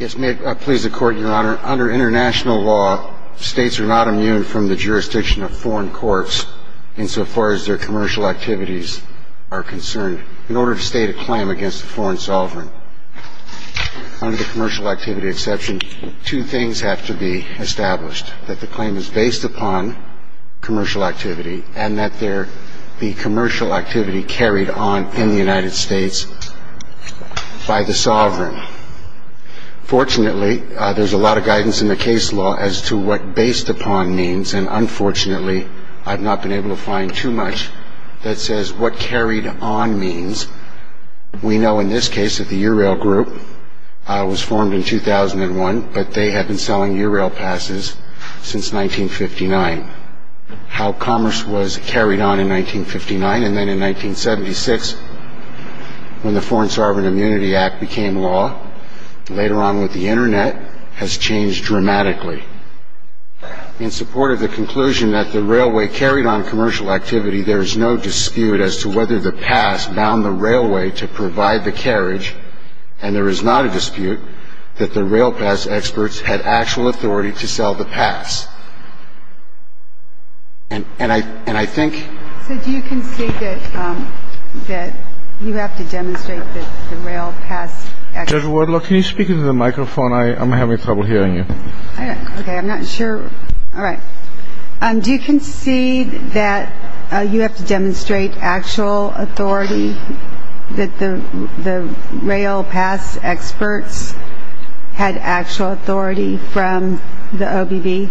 Under international law, states are not immune from the jurisdiction of foreign courts insofar as their commercial activities are concerned in order to state a claim against a foreign sovereign. Under the commercial activity exception, two things have to be established, that the claim is based upon commercial activity and that there be commercial activity carried on in the United States by the sovereign. Fortunately, there's a lot of guidance in the case law as to what based upon means and unfortunately, I've not been able to find too much that says what carried on means. We know in this case that the URail group was formed in 2001, but they had been selling URail passes since 1959. How commerce was carried on in 1959 and then in 1976 when the Foreign Sovereign Immunity Act became law, later on with the internet, has changed dramatically. In support of the conclusion that the railway carried on commercial activity, there is no dispute as to whether the pass bound the railway to provide the carriage and there is not a dispute that the rail pass experts had actual authority to sell the pass. Do you concede that you have to demonstrate that the rail pass experts had actual authority?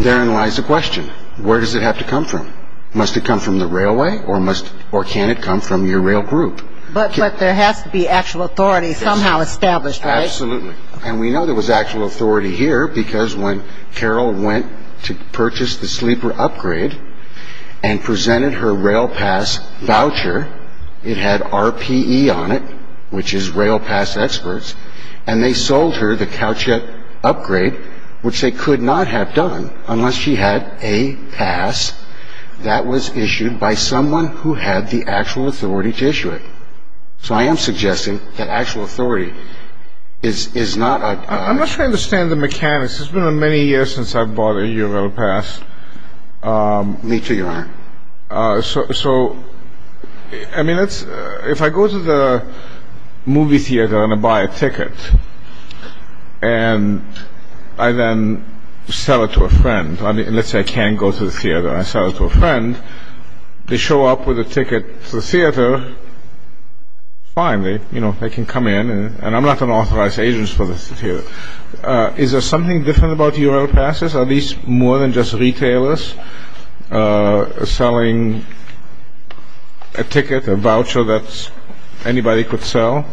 Therein lies the question. Where does it have to come from? Must it come from the railway or can it come from your rail group? But there has to be actual authority somehow established, right? Absolutely. And we know there was actual authority here because when Carol went to purchase the sleeper upgrade and presented her rail pass voucher, it had RPE on it, which is rail pass experts, and they sold her the Cowcheck upgrade, which they could not have done unless she had a pass that was issued by someone who had the actual authority to issue it. So I am suggesting that actual authority is not... I'm not trying to understand the mechanics. It's been many years since I've bought a rail pass. Me too, you are. So, I mean, if I go to the movie theater and I buy a ticket and I then sell it to a friend, unless I can go to the theater and I sell it to a friend, they show up with a ticket to the theater, it's fine. They can come in and I'm not an authorized agent for the theater. Is there something different about URL passes? Are these more than just retailers selling a ticket, a voucher that anybody could sell?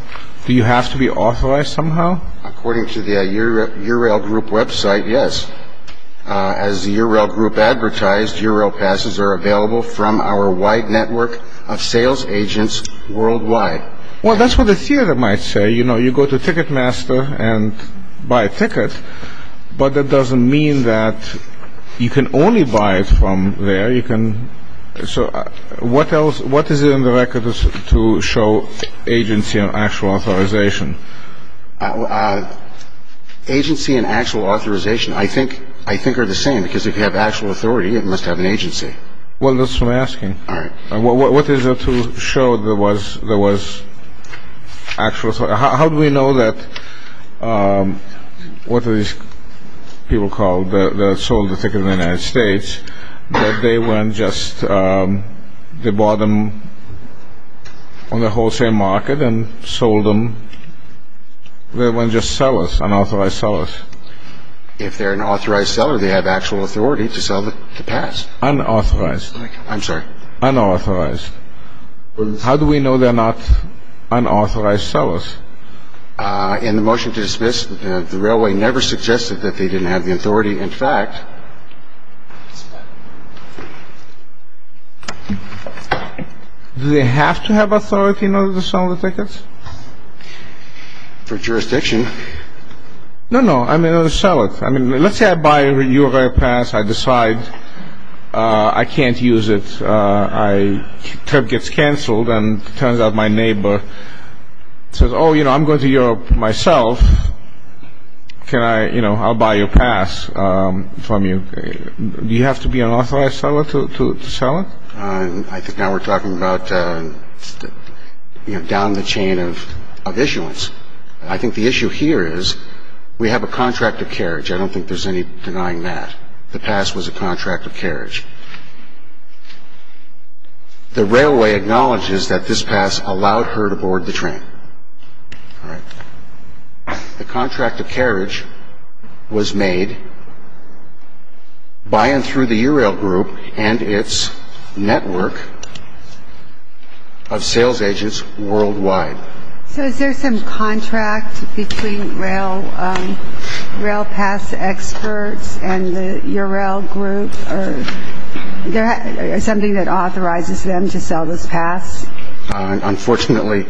Do you have to be authorized somehow? According to the URL group website, yes. As the URL group advertised, URL passes are available from our wide network of sales agents worldwide. Well, that's what the theater might say. You know, you go to Ticketmaster and buy a ticket, but that doesn't mean that you can only buy it from there. What is it in the record to show agency and actual authorization? Agency and actual authorization, I think, are the same. Because if you have actual authority, it must have an agency. Well, that's what I'm asking. All right. What is it to show there was actual authorization? How do we know that what these people call the sold the ticket in the United States, that they weren't just, they bought them on the wholesale market and sold them? They weren't just sellers, unauthorized sellers? If they're an authorized seller, they have actual authority to sell the pass. Unauthorized. I'm sorry. Unauthorized. How do we know they're not unauthorized sellers? In the motion to dismiss, the railway never suggested that they didn't have the authority. In fact, do they have to have authority in order to sell the tickets? For jurisdiction. No, no. I mean, to sell it. Let's say I buy a U of A pass. I decide I can't use it. My trip gets canceled, and it turns out my neighbor says, oh, you know, I'm going to Europe myself. I'll buy your pass from you. Do you have to be an authorized seller to sell it? I think now we're talking about down the chain of issuance. I think the issue here is we have a contract of carriage. I don't think there's any denying that. The pass was a contract of carriage. The railway acknowledges that this pass allowed her to board the train. The contract of carriage was made by and through the URail group and its network of sales agents worldwide. So is there some contract between rail pass experts and the URail group? Is there something that authorizes them to sell this pass? Unfortunately,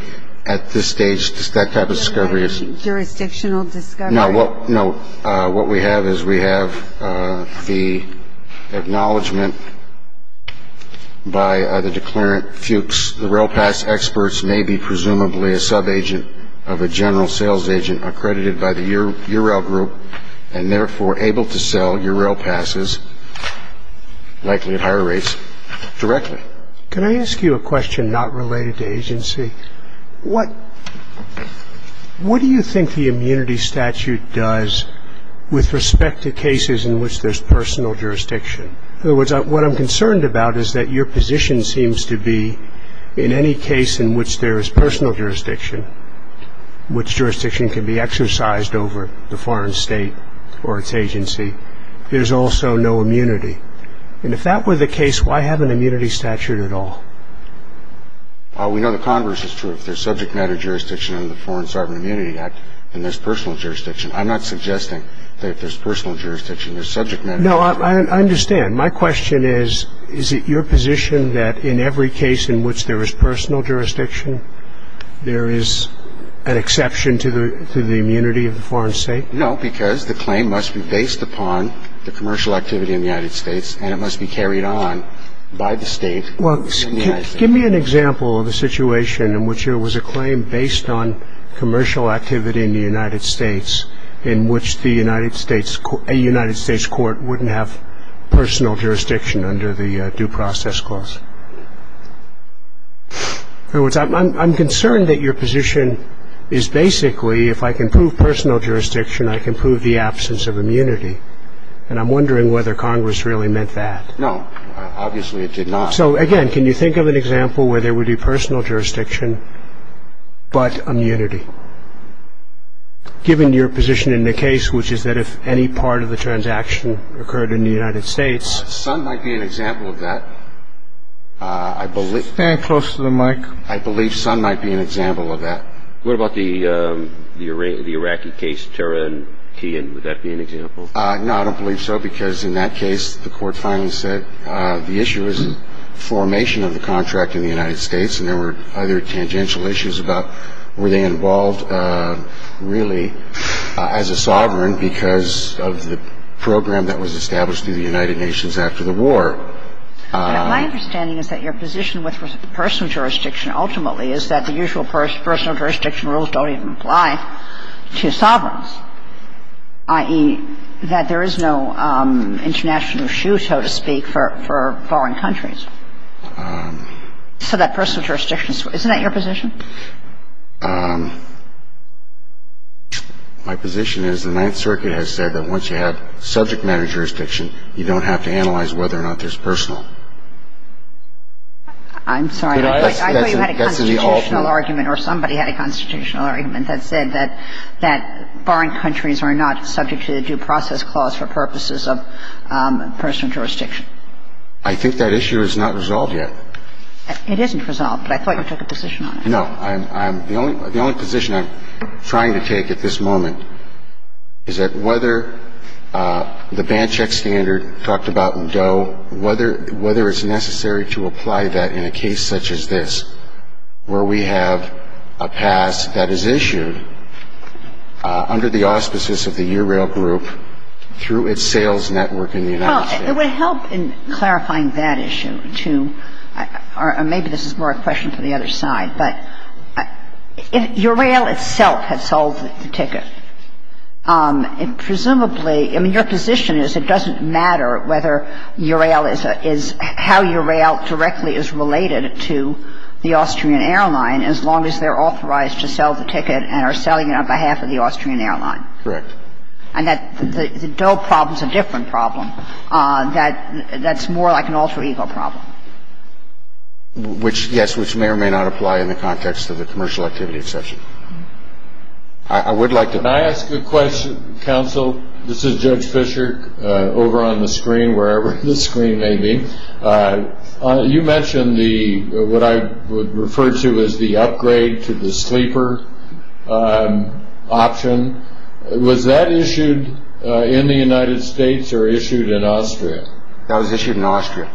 at this stage, that type of discovery is- Jurisdictional discovery? No. What we have is we have the acknowledgment by the declarant. The rail pass experts may be presumably a subagent of a general sales agent accredited by the URail group and therefore able to sell URail passes, likely at higher rates, directly. Can I ask you a question not related to agency? What do you think the immunity statute does with respect to cases in which there's personal jurisdiction? In other words, what I'm concerned about is that your position seems to be in any case in which there is personal jurisdiction, which jurisdiction can be exercised over the foreign state or its agency, there's also no immunity. And if that were the case, why have an immunity statute at all? We know the converse is true. If there's subject matter jurisdiction under the Foreign Sovereign Immunity Act, then there's personal jurisdiction. I'm not suggesting that if there's personal jurisdiction, there's subject matter jurisdiction. No, I understand. My question is, is it your position that in every case in which there is personal jurisdiction, there is an exception to the immunity of the foreign state? No, because the claim must be based upon the commercial activity in the United States, and it must be carried on by the state. Give me an example of a situation in which there was a claim based on commercial activity in the United States in which a United States court wouldn't have personal jurisdiction under the due process clause. I'm concerned that your position is basically, if I can prove personal jurisdiction, I can prove the absence of immunity. And I'm wondering whether Congress really meant that. No, obviously it did not. So, again, can you think of an example where there would be personal jurisdiction but immunity? Given your position in the case, which is that if any part of the transaction occurred in the United States. Sun might be an example of that. Stand close to the mic. I believe Sun might be an example of that. What about the Iraqi case, Tara and Kian? Would that be an example? No, I don't believe so, because in that case the court finally said the issue was formation of the contract in the United States, and there were other tangential issues about were they involved really as a sovereign because of the program that was established in the United Nations after the war. My understanding is that your position with personal jurisdiction ultimately is that the usual personal jurisdiction rules don't even apply to sovereigns, i.e., that there is no international issue, so to speak, for foreign countries. So that personal jurisdiction, isn't that your position? My position is the Ninth Circuit has said that once you have subject matter jurisdiction, you don't have to analyze whether or not there's personal. I'm sorry. I thought you had a constitutional argument or somebody had a constitutional argument that said that foreign countries are not subject to the due process clause for purposes of personal jurisdiction. I think that issue is not resolved yet. It isn't resolved, but I thought you took a position on it. No. The only position I'm trying to take at this moment is that whether the Bandcheck Standard talked about DOE, whether it's necessary to apply that in a case such as this, where we have a pass that is issued under the auspices of the URAIL group through its sales network in the United States. Well, it would help in clarifying that issue, too. Or maybe this is more a question for the other side, but URAIL itself has sold the ticket. Presumably, I mean, your position is it doesn't matter whether URAIL is, how URAIL directly is related to the Austrian airline as long as they're authorized to sell the ticket and are selling it on behalf of the Austrian airline. Correct. And that the DOE problem is a different problem. That's more like an alter ego problem. Which, yes, which may or may not apply in the context of a commercial activity session. I would like to- Can I ask a question, counsel? This is Judge Fischer, over on the screen, wherever the screen may be. You mentioned what I would refer to as the upgrade to the sleeper option. Was that issued in the United States or issued in Austria? That was issued in Austria.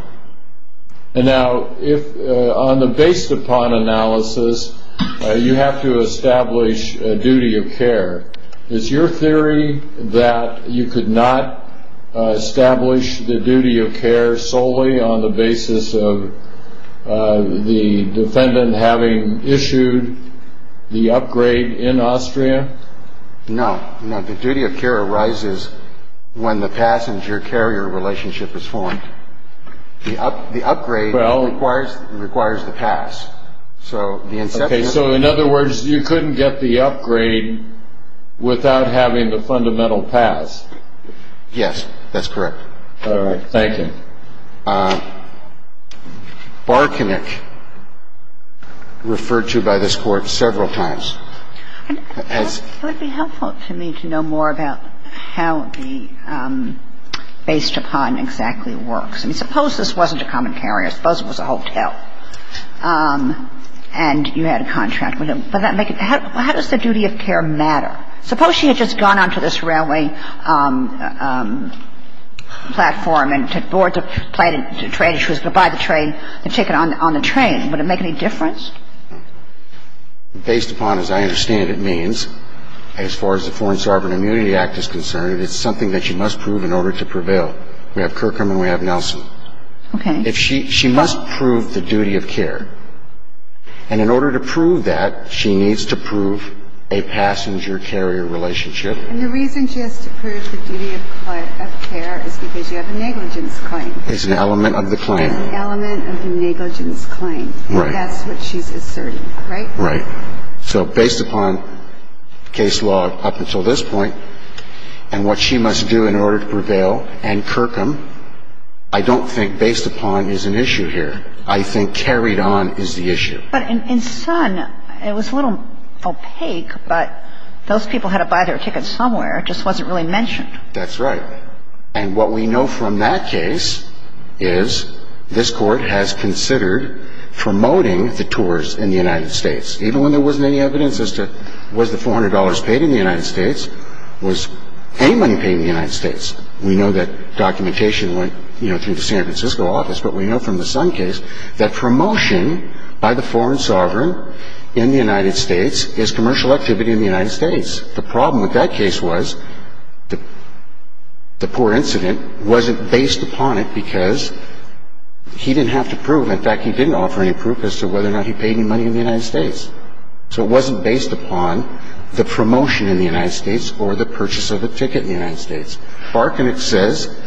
And now, on the based upon analysis, you have to establish a duty of care. Is your theory that you could not establish the duty of care solely on the basis of the defendant having issued the upgrade in Austria? No. The duty of care arises when the passenger-carrier relationship is formed. The upgrade requires the pass. So, in other words, you couldn't get the upgrade without having the fundamental pass. Yes, that's correct. All right. Thank you. I'm going to go back to the bar connection referred to by this Court several times. Would it be helpful to me to know more about how the based upon exactly works? I mean, suppose this wasn't a common carrier. Suppose it was a hotel and you had a contract. How does the duty of care matter? Suppose she had just gone onto this railway platform and boarded the train and she was to buy the ticket on the train. Would it make any difference? Based upon, as I understand it means, as far as the Foreign Sovereign Immunity Act is concerned, it's something that she must prove in order to prevail. We have Kirkham and we have Nelson. She must prove the duty of care. And in order to prove that, she needs to prove a passenger-carrier relationship. And the reason she has to prove the duty of care is because you have a negligence claim. It's an element of the claim. An element of the negligence claim. Right. That's what she's asserted, right? Right. So, based upon case law up until this point, and what she must do in order to prevail, and Kirkham, I don't think based upon is an issue here. I think carried on is the issue. But in Sun, it was a little opaque, but those people had to buy their ticket somewhere. It just wasn't really mentioned. That's right. And what we know from that case is this Court has considered promoting the tours in the United States. Even when there wasn't any evidence as to was the $400 paid in the United States? Was any money paid in the United States? We know that documentation went, you know, through the San Francisco office. But we know from the Sun case that promotion by the foreign sovereign in the United States is commercial activity in the United States. The problem with that case was the poor incident wasn't based upon it because he didn't have to prove. In fact, he didn't offer any proof as to whether or not he paid any money in the United States. So, it wasn't based upon the promotion in the United States or the purchase of the ticket in the United States. Barton, it says,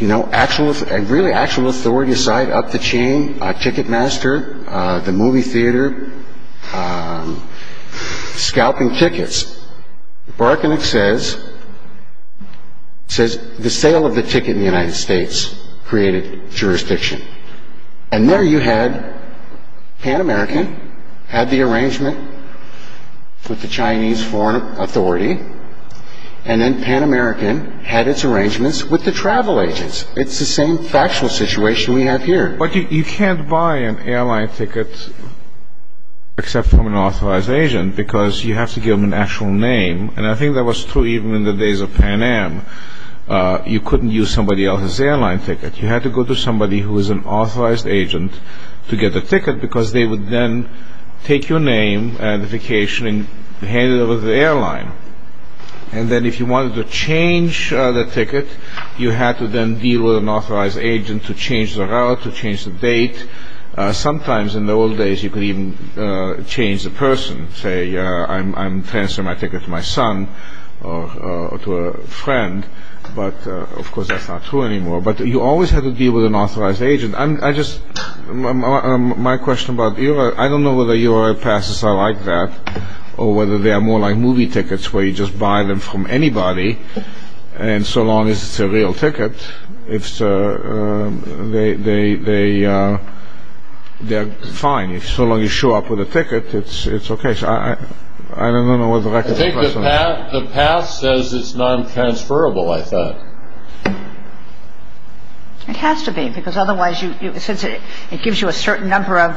you know, actually authority side up the chain, ticket master, the movie theater, scalping tickets. Barton says the sale of the ticket in the United States created jurisdiction. And there you had Pan American had the arrangement with the Chinese foreign authority. And then Pan American had its arrangements with the travel agents. It's the same factual situation we have here. But you can't buy an airline ticket except from an authorized agent because you have to give them an actual name. And I think that was true even in the days of Pan Am. You couldn't use somebody else's airline ticket. You had to go to somebody who was an authorized agent to get the ticket because they would then take your name and vacation and hand it over to the airline. And then if you wanted to change the ticket, you had to then deal with an authorized agent to change the route, to change the date. Sometimes in the old days you could even change the person, say, I'm transferring my ticket to my son or to a friend. But, of course, that's not true anymore. But you always had to deal with an authorized agent. My question about Euro, I don't know whether Euro passes are like that or whether they are more like movie tickets where you just buy them from anybody. And so long as it's a real ticket, they're fine. So long as you show up with a ticket, it's okay. I don't know what the record is. I think the pass says it's non-transferable, I thought. It has to be because otherwise it gives you a certain number of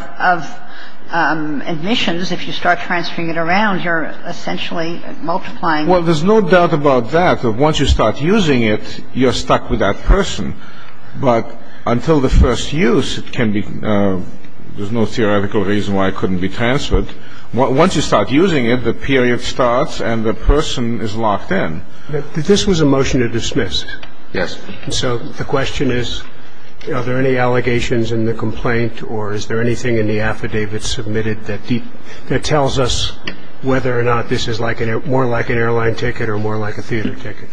admissions. If you start transferring it around, you're essentially multiplying. Well, there's no doubt about that. But once you start using it, you're stuck with that person. But until the first use, there's no theoretical reason why it couldn't be transferred. Once you start using it, the period starts and the person is locked in. This was a motion to dismiss. Yes. So the question is, are there any allegations in the complaint or is there anything in the affidavit submitted that tells us whether or not this is more like an airline ticket or more like a theater ticket?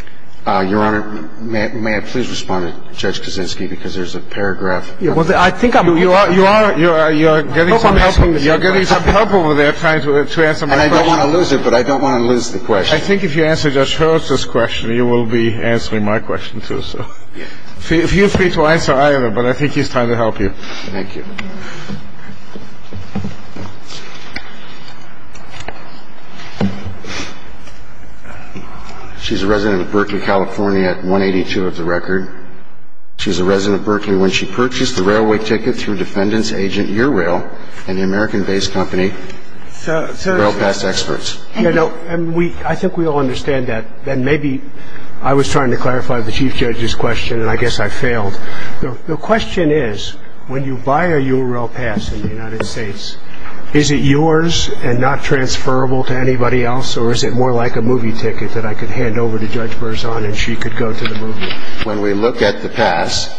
Your Honor, may I please respond to Judge Kaczynski because there's a paragraph. Your Honor, you're getting some help over there trying to answer my question. And I don't want to lose it, but I don't want to lose the question. I think if you answer Judge Hurst's question, you will be answering my question too. So feel free to answer either, but I think he's trying to help you. Thank you. She's a resident of Berkeley, California at 182 of the record. She's a resident of Berkeley. When she purchased the railway ticket, she was a defendant's agent at URail, an American-based company, URail pass experts. I think we all understand that. And maybe I was trying to clarify the Chief Judge's question, and I guess I failed. The question is, when you buy a URail pass in the United States, is it yours and not transferable to anybody else, or is it more like a movie ticket that I could hand over to Judge Burzon and she could go to the movie? When we look at the pass,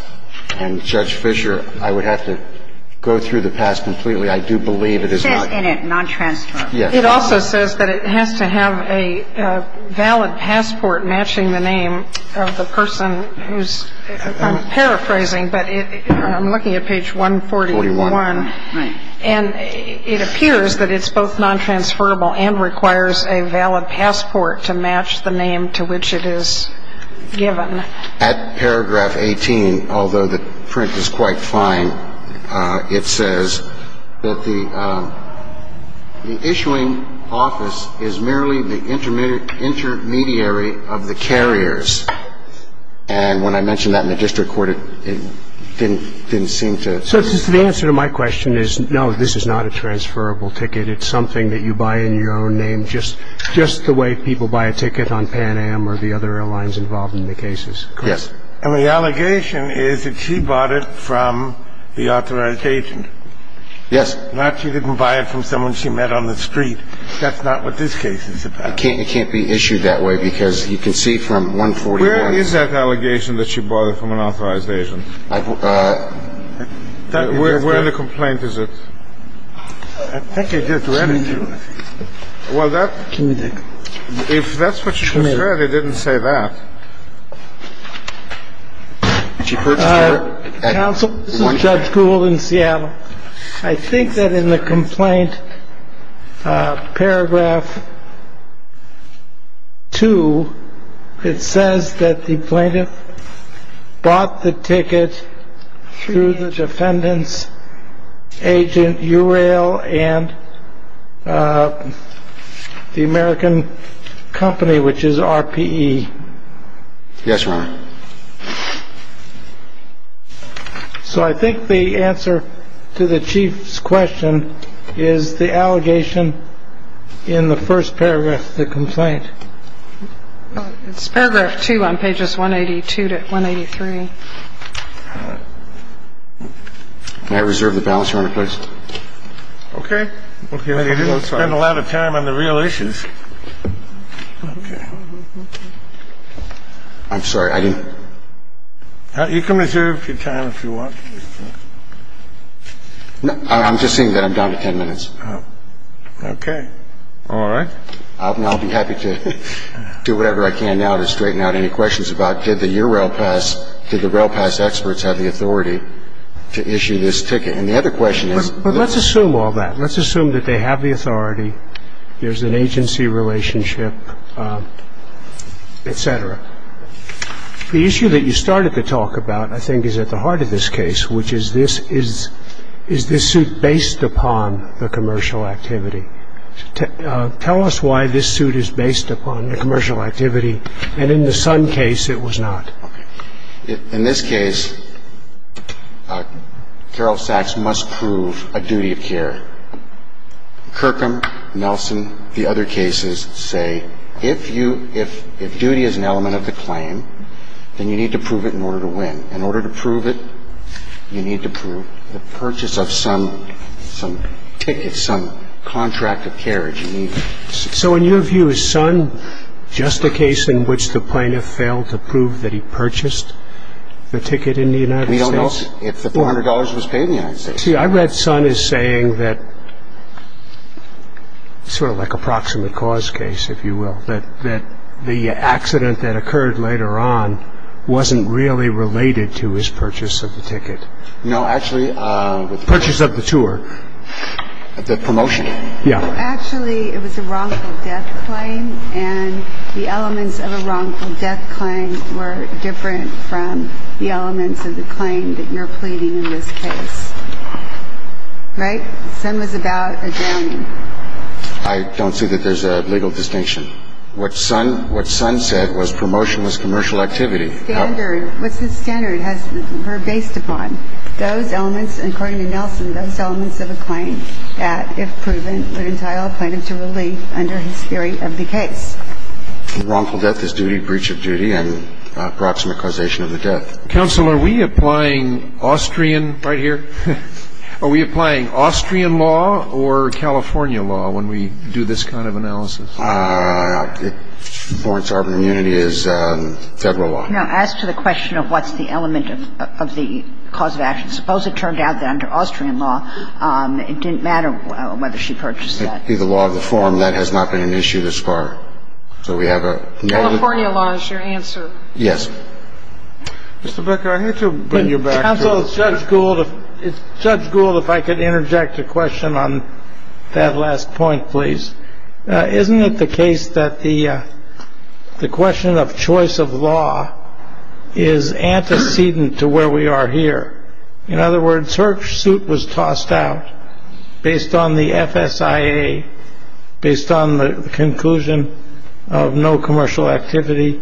and Judge Fischer, I would have to go through the pass completely. I do believe it is not. It says in it non-transferable. Yes. It also says that it has to have a valid passport matching the name of the person who's, I'm paraphrasing, but I'm looking at page 141. And it appears that it's both non-transferable and requires a valid passport to match the name to which it is given. At paragraph 18, although the print is quite fine, it says that the issuing office is merely the intermediary of the carriers. And when I mentioned that in the district court, it didn't seem to... So the answer to my question is, no, this is not a transferable ticket. It's something that you buy in your own name just the way people buy a ticket on Pan Am or the other airlines involved in the cases. Yes. And the allegation is that she bought it from the authorization. Yes. Not she didn't buy it from someone she met on the street. That's not what this case is about. It can't be issued that way because you can see from 141... Where in the complaint is it? I think it's... Well, that's... If that's what you said, it didn't say that. Counsel, this is Judge Gould in Seattle. I think that in the complaint, paragraph 2, it says that the plaintiff bought the ticket through the defendant's agent, URail, and the American company, which is RPE. Yes, Your Honor. So I think the answer to the Chief's question is the allegation in the first paragraph of the complaint. It's paragraph 2 on pages 182 to 183. May I reserve the balance, Your Honor, please? Okay. You didn't spend a lot of time on the real issues. I'm sorry, I didn't... You can reserve your time if you want. I'm just saying that I'm down to 10 minutes. Okay. All right. I'll be happy to do whatever I can now to straighten out any questions about did the URail pass, did the rail pass experts have the authority to issue this ticket? And the other question is... But let's assume all that. Let's assume that they have the authority. There's an agency relationship, et cetera. The issue that you started to talk about, I think, is at the heart of this case, which is this suit based upon a commercial activity. Tell us why this suit is based upon a commercial activity, and in the Sun case, it was not. In this case, Carol Sachs must prove a duty of care. Kirkham, Nelson, the other cases say if duty is an element of the claim, then you need to prove it in order to win. In order to prove it, you need to prove the purchase of some ticket, some contract of care that you need. So in your view, is Sun just a case in which the plaintiff failed to prove that he purchased the ticket in the United States? We don't know if the $400 was paid in the United States. See, I read Sun as saying that sort of like a proximate cause case, if you will, that the accident that occurred later on wasn't really related to his purchase of the ticket. No, actually... Purchase of the tour. The promotion. Yeah. No, actually, it was a wrongful death claim, and the elements of a wrongful death claim were different from the elements of the claim that you're pleading in this case. Right? Sun was about a downing. I don't see that there's a legal distinction. What Sun said was promotion was commercial activity. Standards. What the standards were based upon. Those elements, according to Nelson, those elements of a claim that, if proven, would entail a plaintiff to release under his theory of the case. Wrongful death is duty, breach of duty, and a proximate causation of the death. Counsel, are we applying Austrian right here? Are we applying Austrian law or California law when we do this kind of analysis? Lawrence, our immunity is federal law. Now, as to the question of what's the element of the cause of action, suppose it turned out that, under Austrian law, it didn't matter whether she purchased that. Under the law of reform, that has not been an issue thus far. So we have a... California law is your answer. Yes. Mr. Becker, I have to bring you back to... Counsel, it's such good if I could interject a question on that last point, please. Isn't it the case that the question of choice of law is antecedent to where we are here? In other words, her suit was tossed out based on the FSIA, based on the conclusion of no commercial activity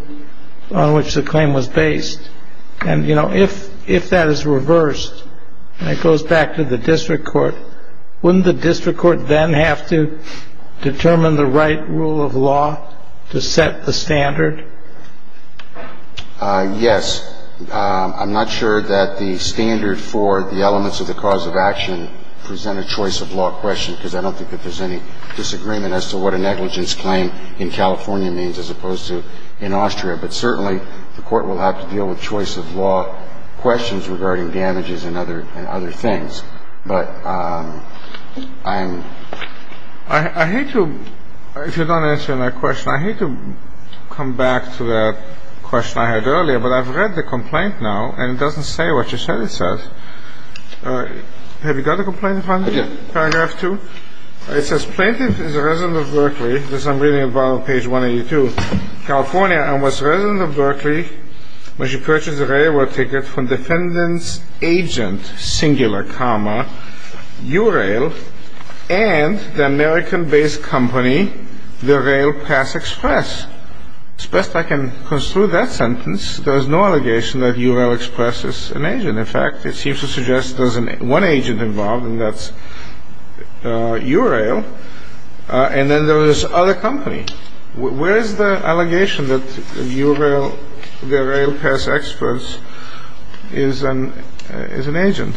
on which the claim was based. And, you know, if that is reversed and it goes back to the district court, wouldn't the district court then have to determine the right rule of law to set the standard? Yes. I'm not sure that the standard for the elements of the cause of action present a choice of law question, because I don't think that there's any disagreement as to what a negligence claim in California means as opposed to in Austria. But certainly the court will have to deal with choice of law questions regarding damages and other things. But I'm... I hate to... If you don't answer my question, I hate to come back to the question I had earlier, but I've read the complaint now, and it doesn't say what you said it says. Have you got the complaint from me? Yes. Paragraph two? It says, Plaintiff is a resident of Berkeley... This I'm reading about on page 182... California, and was a resident of Berkeley when she purchased a railroad ticket from dependent agent, singular comma, URail, and the American-based company, the Rail Pass Express. As best I can construe that sentence, there is no allegation that URail Express is an agent. In fact, it seems to suggest there's one agent involved, and that's URail, and then there's this other company. Where is the allegation that URail, the Rail Pass Express, is an agent?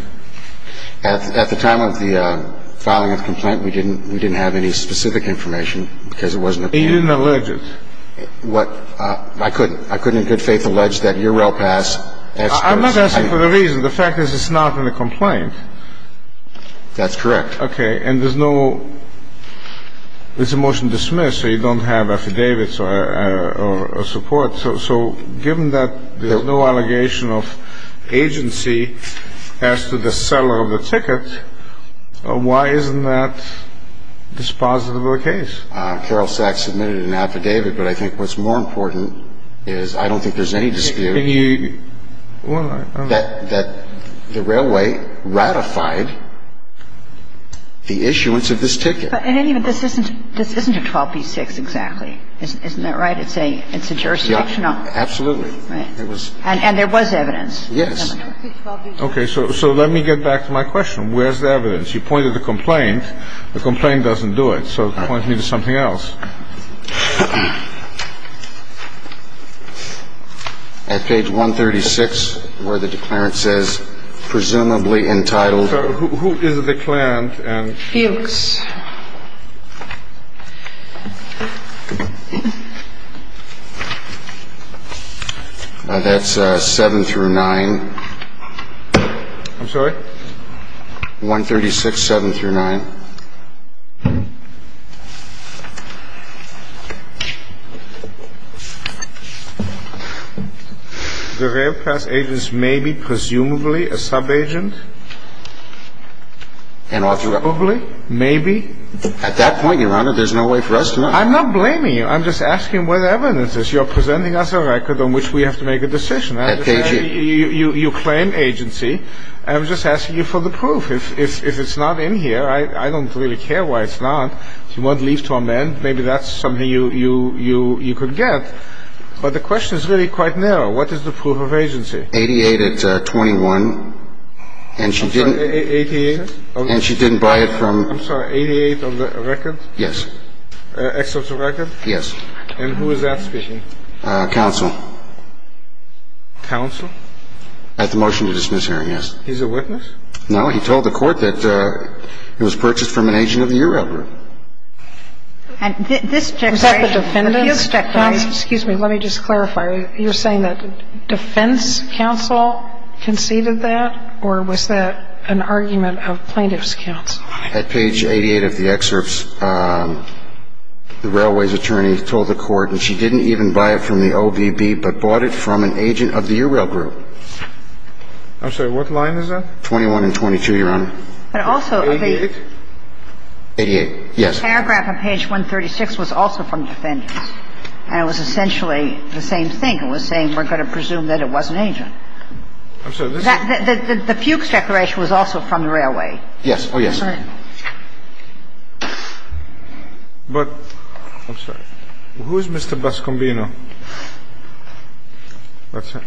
At the time of the filing of the complaint, we didn't have any specific information, because it wasn't... You didn't allege it? I couldn't in good faith allege that URail Pass Express... I'm not asking for the reason. The fact is it's not in the complaint. That's correct. Okay, and there's no... There's a motion to dismiss, so you don't have affidavits or support. So, given that there's no allegation of agency as to the seller of the ticket, why isn't that dispositive of the case? Carol Sachs submitted an affidavit, but I think what's more important is I don't think there's any dispute that the railway ratified the issuance of this ticket. But this isn't a 12B6, exactly. Isn't that right? It's a jurisdictional... Absolutely. And there was evidence. Yes. Okay, so let me get back to my question. Where's the evidence? She pointed to the complaint. The complaint doesn't do it, so it points me to something else. At page 136, where the declarant says, presumably entitled... Who is the declarant? Felix. That's 7 through 9. I'm sorry? 136, 7 through 9. The rail pass agent is maybe, presumably, a sub-agent? And alternatively? Maybe? At that point, Your Honor, there's no way for us to know. I'm not blaming you. I'm just asking where the evidence is. You're presenting us a record on which we have to make a decision. At page... You claim agency, and I'm just asking you for the proof. If it's not in here, I don't really care why it's not. If you want leave to amend, maybe that's something you could get. But the question is really quite narrow. What is the proof of agency? 88 at 21. 88? And she didn't buy it from... I'm sorry, 88 on the record? Yes. Excelsior record? Yes. And who is that fishing? Counsel. Counsel? At the motion to dismiss hearing, yes. He's a witness? No, he told the court that it was purchased from an agent of your record. Was that the defendant? Excuse me, let me just clarify. You're saying that defense counsel conceded that, or was that an argument of plaintiff's counsel? At page 88 of the excerpts, the railway's attorney told the court that she didn't even buy it from the OVB, but bought it from an agent of the URail group. I'm sorry, what line is that? 21 and 22, Your Honor. But also... 88? 88, yes. The paragraph on page 136 was also from the defendant, and it was essentially the same thing. It was saying we're going to presume that it was an agent. The fugue declaration was also from the railway. Yes. Oh, yes. But... I'm sorry. Who is Mr. Bascombino? What's that?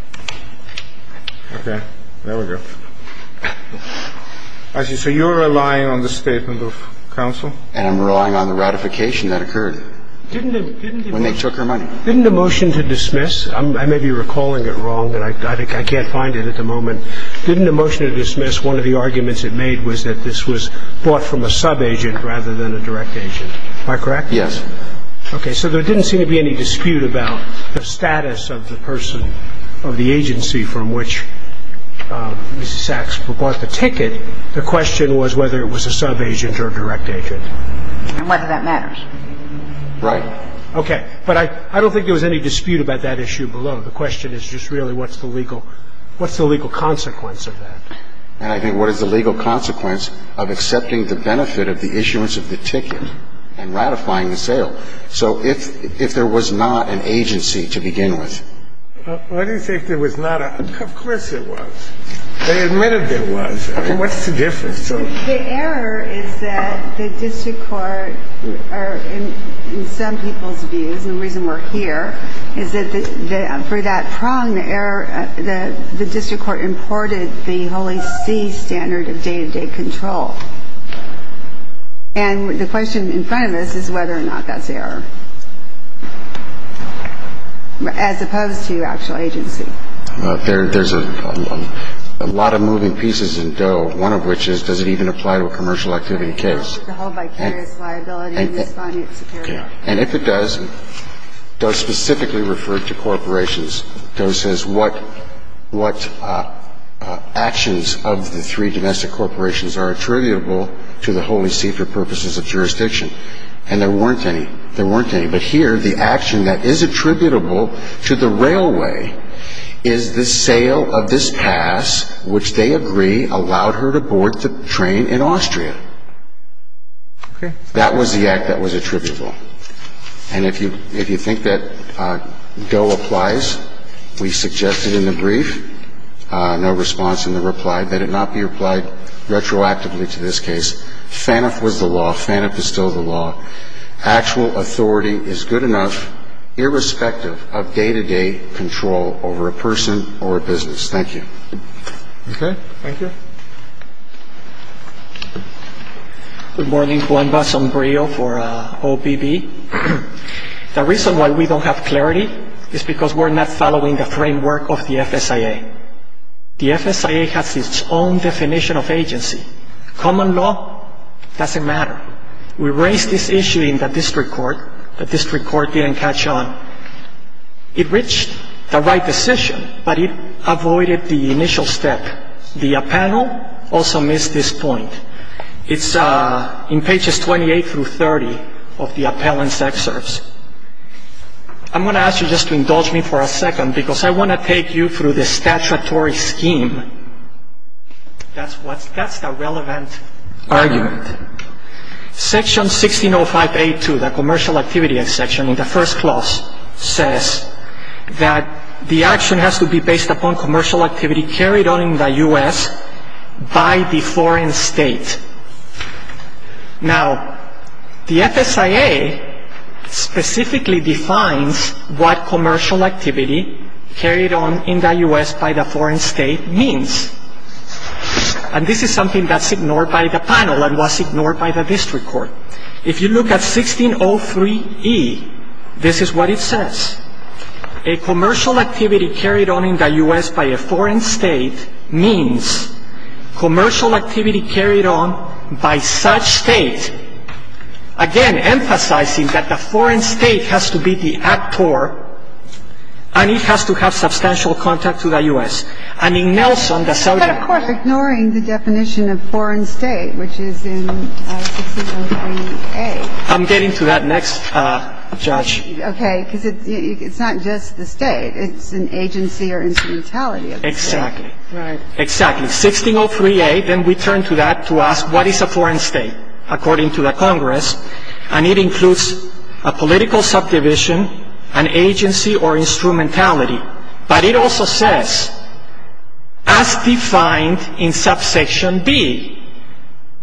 Okay. There we go. As you say, you're relying on the statement of counsel? And I'm relying on the ratification that occurred. Didn't the... When they took her money. Didn't the motion to dismiss, I may be recalling it wrong, and I can't find it at the moment. Didn't the motion to dismiss, one of the arguments it made was that this was bought from a subagent rather than a direct agent. Am I correct? Yes. Okay. So there didn't seem to be any dispute about the status of the person or the agency from which Mrs. Sachs bought the ticket. The question was whether it was a subagent or a direct agent. And whether that matters. Right. Okay. But I don't think there was any dispute about that issue below. The question is just really what's the legal consequence of that. I think what is the legal consequence of accepting the benefit of the issuance of the ticket and ratifying the sale. So if there was not an agency to begin with. I don't think there was not. Of course there was. They admitted there was. What's the difference? The error is that the district court, in some people's views, and the reason we're here, is that for that trial and the error, the district court imported the Holy See standard of day-to-day control. And the question in front of us is whether or not that's error. As opposed to actual agency. There's a lot of moving pieces in Doe. One of which is does it even apply to a commercial activity case. And if it does, it does specifically refer to corporations. Doe says what actions of the three domestic corporations are attributable to the Holy See for purposes of jurisdiction. And there weren't any. There weren't any. But here, the action that is attributable to the railway is the sale of this pass, which they agree allowed her to board the train in Austria. That was the act that was attributable. And if you think that Doe applies, we suggest it in the brief. No response in the reply. Let it not be replied retroactively to this case. FANF was the law. FANF is still the law. Actual authority is good enough, irrespective of day-to-day control over a person or a business. Thank you. Okay. Thank you. Good morning. Juan Bas on Braille for OBB. The reason why we don't have clarity is because we're not following the framework of the FSIA. The FSIA has its own definition of agency. Common law doesn't matter. We raised this issue in the district court. The district court didn't catch on. It reached the right decision, but it avoided the initial step. The appellant also missed this point. It's in pages 28 through 30 of the appellant's excerpts. I'm going to ask you just to indulge me for a second, because I want to take you through the statutory scheme. That's a relevant argument. Section 1605A2, the commercial activity section in the first clause, says that the action has to be based upon commercial activity carried on in the U.S. by the foreign state. Now, the FSIA specifically defines what commercial activity carried on in the U.S. by the foreign state means. And this is something that's ignored by the panel and was ignored by the district court. If you look at 1603E, this is what it says. A commercial activity carried on in the U.S. by a foreign state means commercial activity carried on by such state. Again, emphasizing that the foreign state has to be the actor, and it has to have substantial contact to the U.S. And in Nelson, that's how it's- But, of course, ignoring the definition of foreign state, which is in 1603A. I'm getting to that next, Judge. Okay, because it's not just the state. It's an agency or instrumentality. Exactly. Right. Exactly. 1603A, then we turn to that to ask what is a foreign state, according to the Congress, and it includes a political subdivision, an agency, or instrumentality. But it also says, as defined in subsection B,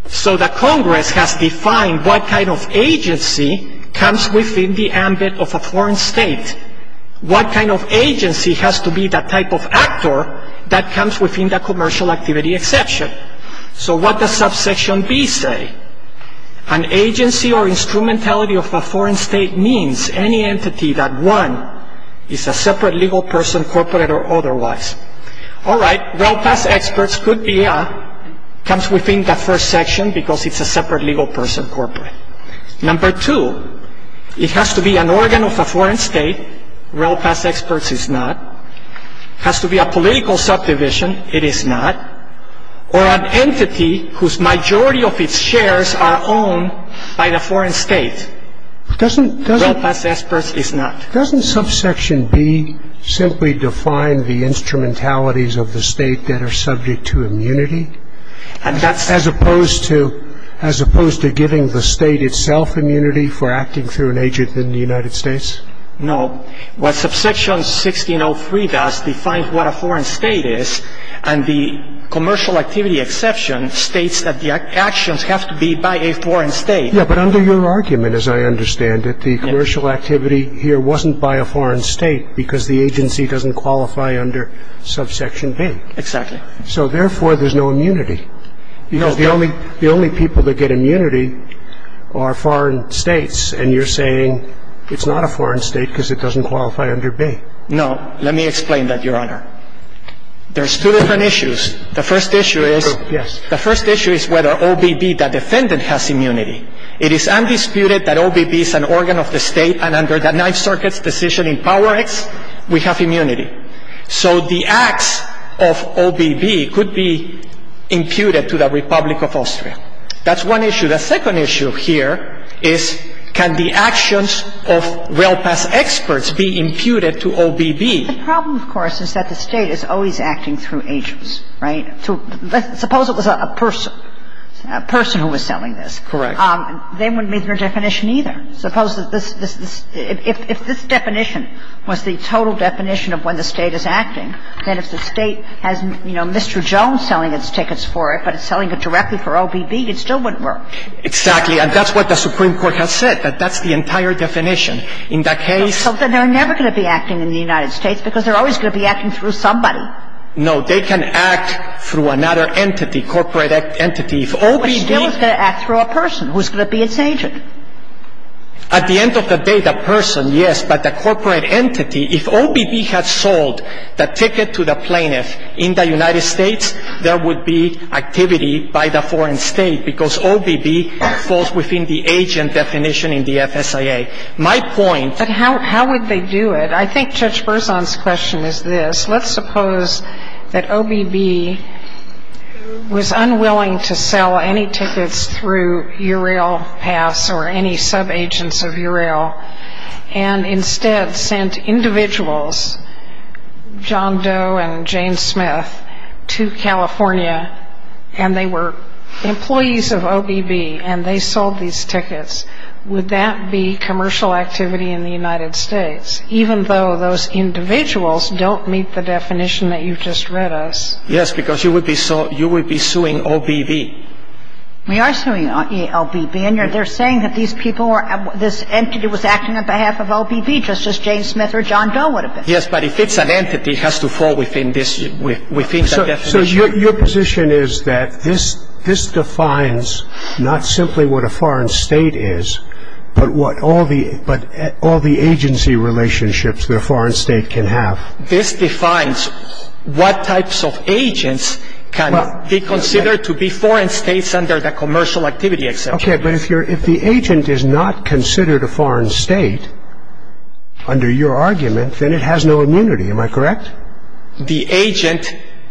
So, the Congress has defined what kind of agency comes within the ambit of a foreign state. What kind of agency has to be that type of actor that comes within the commercial activity exception? So, what does subsection B say? An agency or instrumentality of a foreign state means any entity that, one, is a separate legal person, corporate or otherwise. All right. Well, past experts could be a- comes within the first section because it's a separate legal person, corporate. Number two, it has to be an organ of a foreign state. Well, past experts is not. It has to be a political subdivision. It is not. Or an entity whose majority of its shares are owned by the foreign state. Doesn't- Well, past experts is not. Doesn't subsection B simply define the instrumentalities of the state that are subject to immunity? And that's- As opposed to- as opposed to giving the state itself immunity for acting through an agent in the United States? No. What subsection 1603 does defines what a foreign state is, and the commercial activity exception states that the actions have to be by a foreign state. Yeah, but under your argument, as I understand it, the commercial activity here wasn't by a foreign state because the agency doesn't qualify under subsection B. Exactly. So, therefore, there's no immunity. You know, the only- the only people that get immunity are foreign states, and you're saying it's not a foreign state because it doesn't qualify under B. No. Let me explain that, Your Honor. There's two different issues. The first issue is- Yes. The first issue is whether OBB, the defendant, has immunity. It is undisputed that OBB is an organ of the state, and under the Ninth Circuit's decision in Power X, we have immunity. So the acts of OBB could be imputed to the Republic of Austria. That's one issue. The second issue here is can the actions of well-past experts be imputed to OBB? The problem, of course, is that the state is always acting through agents, right? Suppose it was a person, a person who was selling this. Correct. They wouldn't need their definition either. Suppose that this- if this definition was the total definition of when the state is acting, then if the state has, you know, Mr. Jones selling its tickets for it, but it's selling it directly for OBB, it still wouldn't work. Exactly, and that's what the Supreme Court has said, that that's the entire definition. In that case- So then they're never going to be acting in the United States because they're always going to be acting through somebody. No, they can act through another entity, corporate entity. OBB- But still it's going to act through a person who's going to be its agent. At the end of the day, that person, yes, but the corporate entity, if OBB had sold the ticket to the plaintiff in the United States, there would be activity by the foreign state because OBB falls within the agent definition in the FSIA. My point- But how would they do it? I think Judge Berzon's question is this. Let's suppose that OBB was unwilling to sell any tickets through URail pass or any subagents of URail and instead sent individuals, John Doe and James Smith, to California and they were employees of OBB and they sold these tickets. Would that be commercial activity in the United States, even though those individuals don't meet the definition that you just read us? Yes, because you would be suing OBB. We are suing OBB and they're saying that this entity was acting on behalf of OBB just as James Smith or John Doe would have been. Yes, but if it's an entity, it has to fall within that definition. So your position is that this defines not simply what a foreign state is, but all the agency relationships that a foreign state can have. This defines what types of agents can be considered to be foreign states under the commercial activity exemption. Okay, but if the agent is not considered a foreign state, under your argument, then it has no immunity. Am I correct?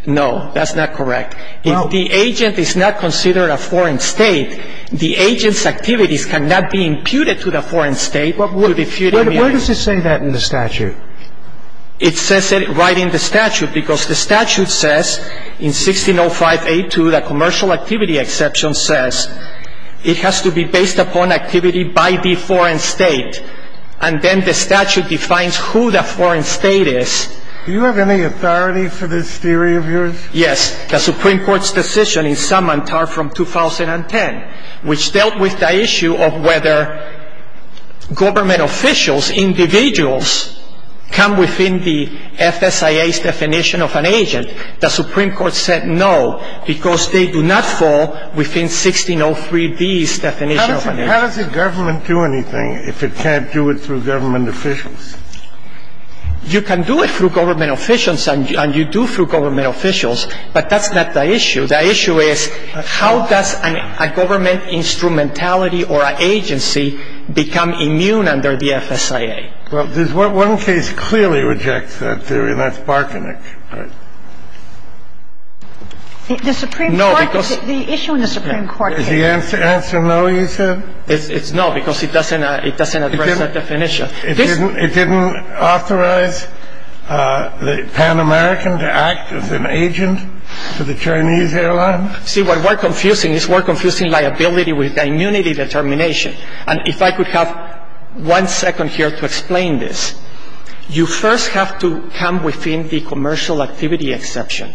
No, that's not correct. If the agent is not considered a foreign state, the agent's activities cannot be imputed to the foreign state. Where does it say that in the statute? It says it right in the statute because the statute says in 1605A2, the commercial activity exemption says it has to be based upon activity by the foreign state. And then the statute defines who the foreign state is. Do you have any authority for this theory of yours? Yes, the Supreme Court's decision in Summantar from 2010, which dealt with the issue of whether government officials, individuals, come within the FSIA's definition of an agent. The Supreme Court said no, because they do not fall within 1603B's definition of an agent. How does the government do anything if it can't do it through government officials? You can do it through government officials, and you do through government officials, but that's not the issue. The issue is how does a government instrumentality or an agency become immune under the FSIA? Well, there's one case clearly rejects that theory, and that's Barkin. The Supreme Court, the issue in the Supreme Court case. Did the answer no, you said? No, because it doesn't address that definition. It didn't authorize the Pan American to act as an agent for the Chinese airlines? See, what we're confusing is we're confusing liability with immunity determination. And if I could have one second here to explain this. You first have to come within the commercial activity exception.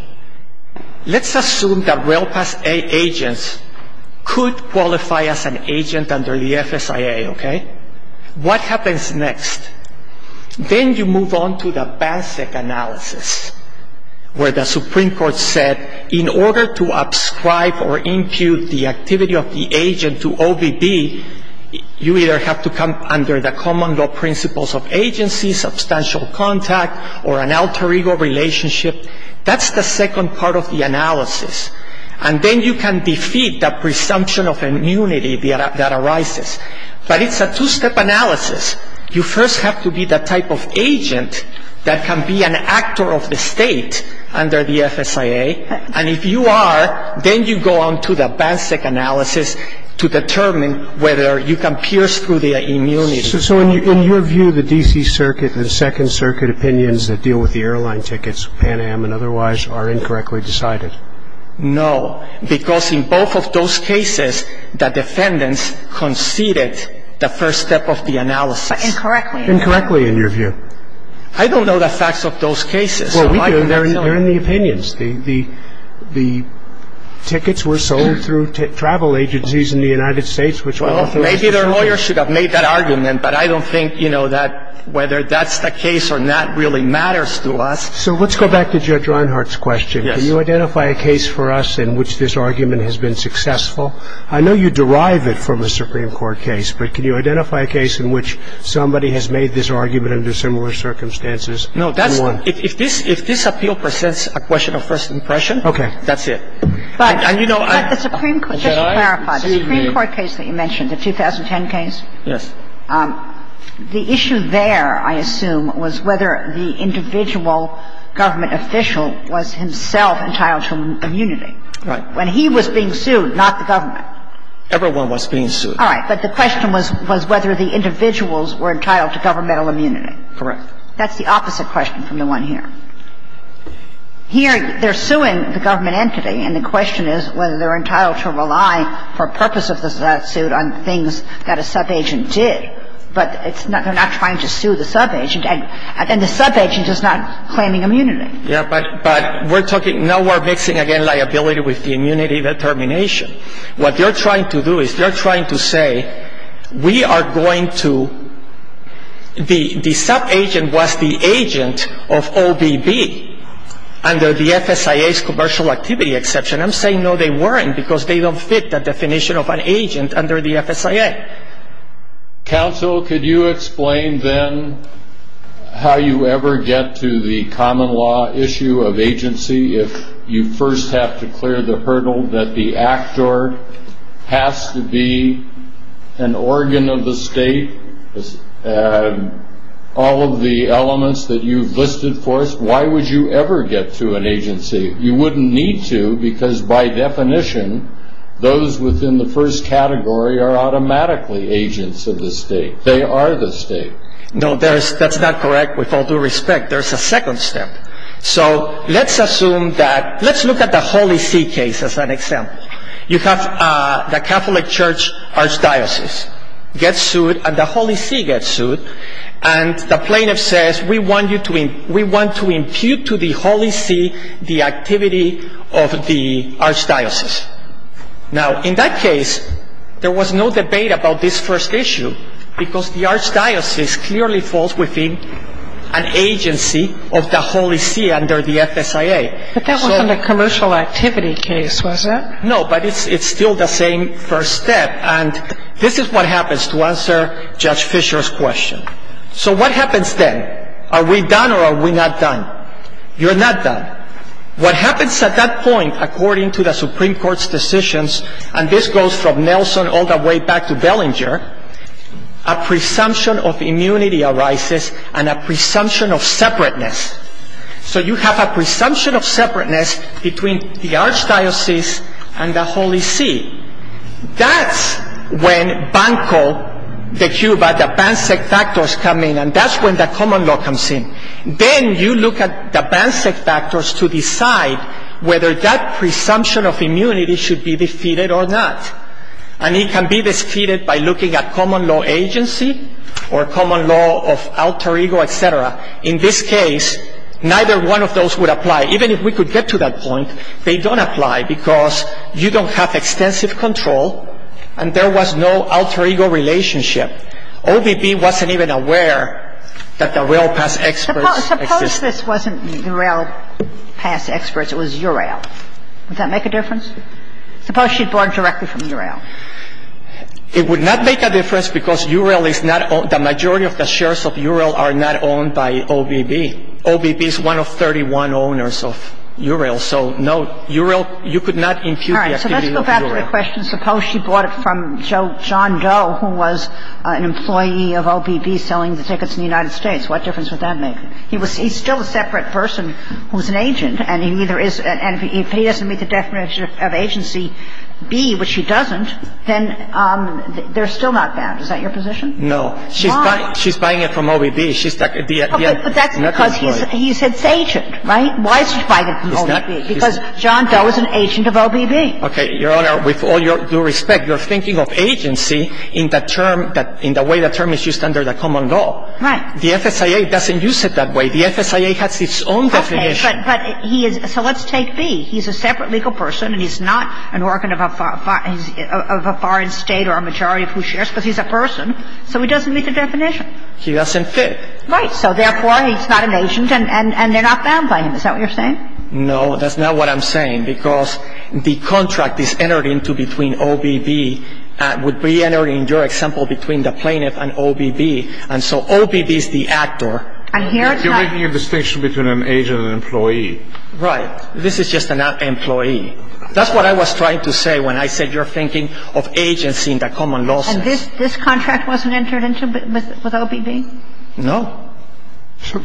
Let's assume that rail pass agents could qualify as an agent under the FSIA, okay? What happens next? Then you move on to the basic analysis, where the Supreme Court said in order to ascribe or impute the activity of the agent to OBB, you either have to come under the common law principles of agency, substantial contact or an alter ego relationship. That's the second part of the analysis. And then you can defeat that presumption of immunity that arises. But it's a two-step analysis. You first have to be the type of agent that can be an actor of the state under the FSIA. And if you are, then you go on to the basic analysis to determine whether you can pierce through the immunity. So in your view, the D.C. Circuit and the Second Circuit opinions that deal with the airline tickets, Pan Am and otherwise, are incorrectly decided? No, because in both of those cases, the defendants conceded the first step of the analysis. Incorrectly? Incorrectly, in your view. I don't know the facts of those cases. Well, we do, and they're in the opinions. The tickets were sold through travel agencies in the United States, which I don't think is the case. Maybe their lawyers should have made that argument, but I don't think, you know, that whether that's the case or not really matters to us. So let's go back to Judge Reinhart's question. Can you identify a case for us in which this argument has been successful? I know you derive it from a Supreme Court case, but can you identify a case in which somebody has made this argument under similar circumstances? No, that's the one. If this appeal presents a question of first impression, that's it. The Supreme Court case that you mentioned, the 2010 case? Yes. The issue there, I assume, was whether the individual government official was himself entitled to immunity. When he was being sued, not the government. Everyone was being sued. All right, but the question was whether the individuals were entitled to governmental immunity. Correct. That's the opposite question from the one here. Here, they're suing the government entity, and the question is whether they're entitled to rely for purposes of that suit on things that a subagent did. But they're not trying to sue the subagent, and the subagent is not claiming immunity. Yes, but we're talking, now we're mixing, again, liability with the immunity determination. What they're trying to do is they're trying to say, we are going to, the subagent was the agent of OBD under the FSIA's commercial activity exception. I'm saying, no, they weren't, because they don't fit the definition of an agent under the FSIA. Counsel, could you explain, then, how you ever get to the common law issue of agency? If you first have to clear the hurdle that the actor has to be an organ of the state, all of the elements that you've listed for us, why would you ever get to an agency? You wouldn't need to, because by definition, those within the first category are automatically agents of the state. They are the state. No, that's not correct, with all due respect. There's a second step. So, let's assume that, let's look at the Holy See case as an example. You have the Catholic Church Archdiocese gets sued, and the Holy See gets sued, and the plaintiff says, we want to impute to the Holy See the activity of the Archdiocese. Now, in that case, there was no debate about this first issue, because the Archdiocese clearly falls within an agency of the Holy See under the FSIA. But that wasn't a commercial activity case, was it? No, but it's still the same first step, and this is what happens to answer Judge Fisher's question. So, what happens then? Are we done or are we not done? You're not done. What happens at that point, according to the Supreme Court's decisions, and this goes from Nelson all the way back to Bellinger, a presumption of immunity arises and a presumption of separateness. So, you have a presumption of separateness between the Archdiocese and the Holy See. That's when Banco de Cuba, the BANCEC factors, come in, and that's when the common law comes in. Then you look at the BANCEC factors to decide whether that presumption of immunity should be defeated or not, and it can be defeated by looking at common law agency or common law of alter ego, et cetera. In this case, neither one of those would apply. Even if we could get to that point, they don't apply because you don't have extensive control and there was no alter ego relationship. OBB wasn't even aware that the UREL past experts existed. Suppose this wasn't UREL past experts. It was UREL. Does that make a difference? Suppose she borrowed directly from UREL. It would not make a difference because the majority of the shares of UREL are not owned by OBB. OBB is one of 31 owners of UREL, so you could not impute the activity of UREL. All right, so let's go back to the question. Suppose she bought it from John Doe, who was an employee of OBB selling the tickets in the United States. What difference would that make? He's still a separate person who's an agent, and if he doesn't meet the definition of agency B, but she doesn't, then they're still not bad. Is that your position? No. She's buying it from OBB. But that's because he said it's agent, right? Why is she buying it from OBB? Because John Doe is an agent of OBB. Okay, Your Honor, with all due respect, you're thinking of agency in the way the term is used under the common law. Right. The SSIA doesn't use it that way. The SSIA has its own definition. Okay, so let's take B. He's a separate legal person, and he's not an organ of a foreign state or a majority of whose shares, but he's a person, so he doesn't meet the definition. He doesn't fit. Right. So, therefore, he's not an agent, and they're not bad playing this. Is that what you're saying? No, that's not what I'm saying, because the contract is entered into between OBB, and would be entered in your example between the plaintiff and OBB, and so OBB is the actor. You're making a distinction between an agent and an employee. Right. This is just an employee. That's what I was trying to say when I said you're thinking of agency in the common law. And this contract wasn't entered into with OBB? No.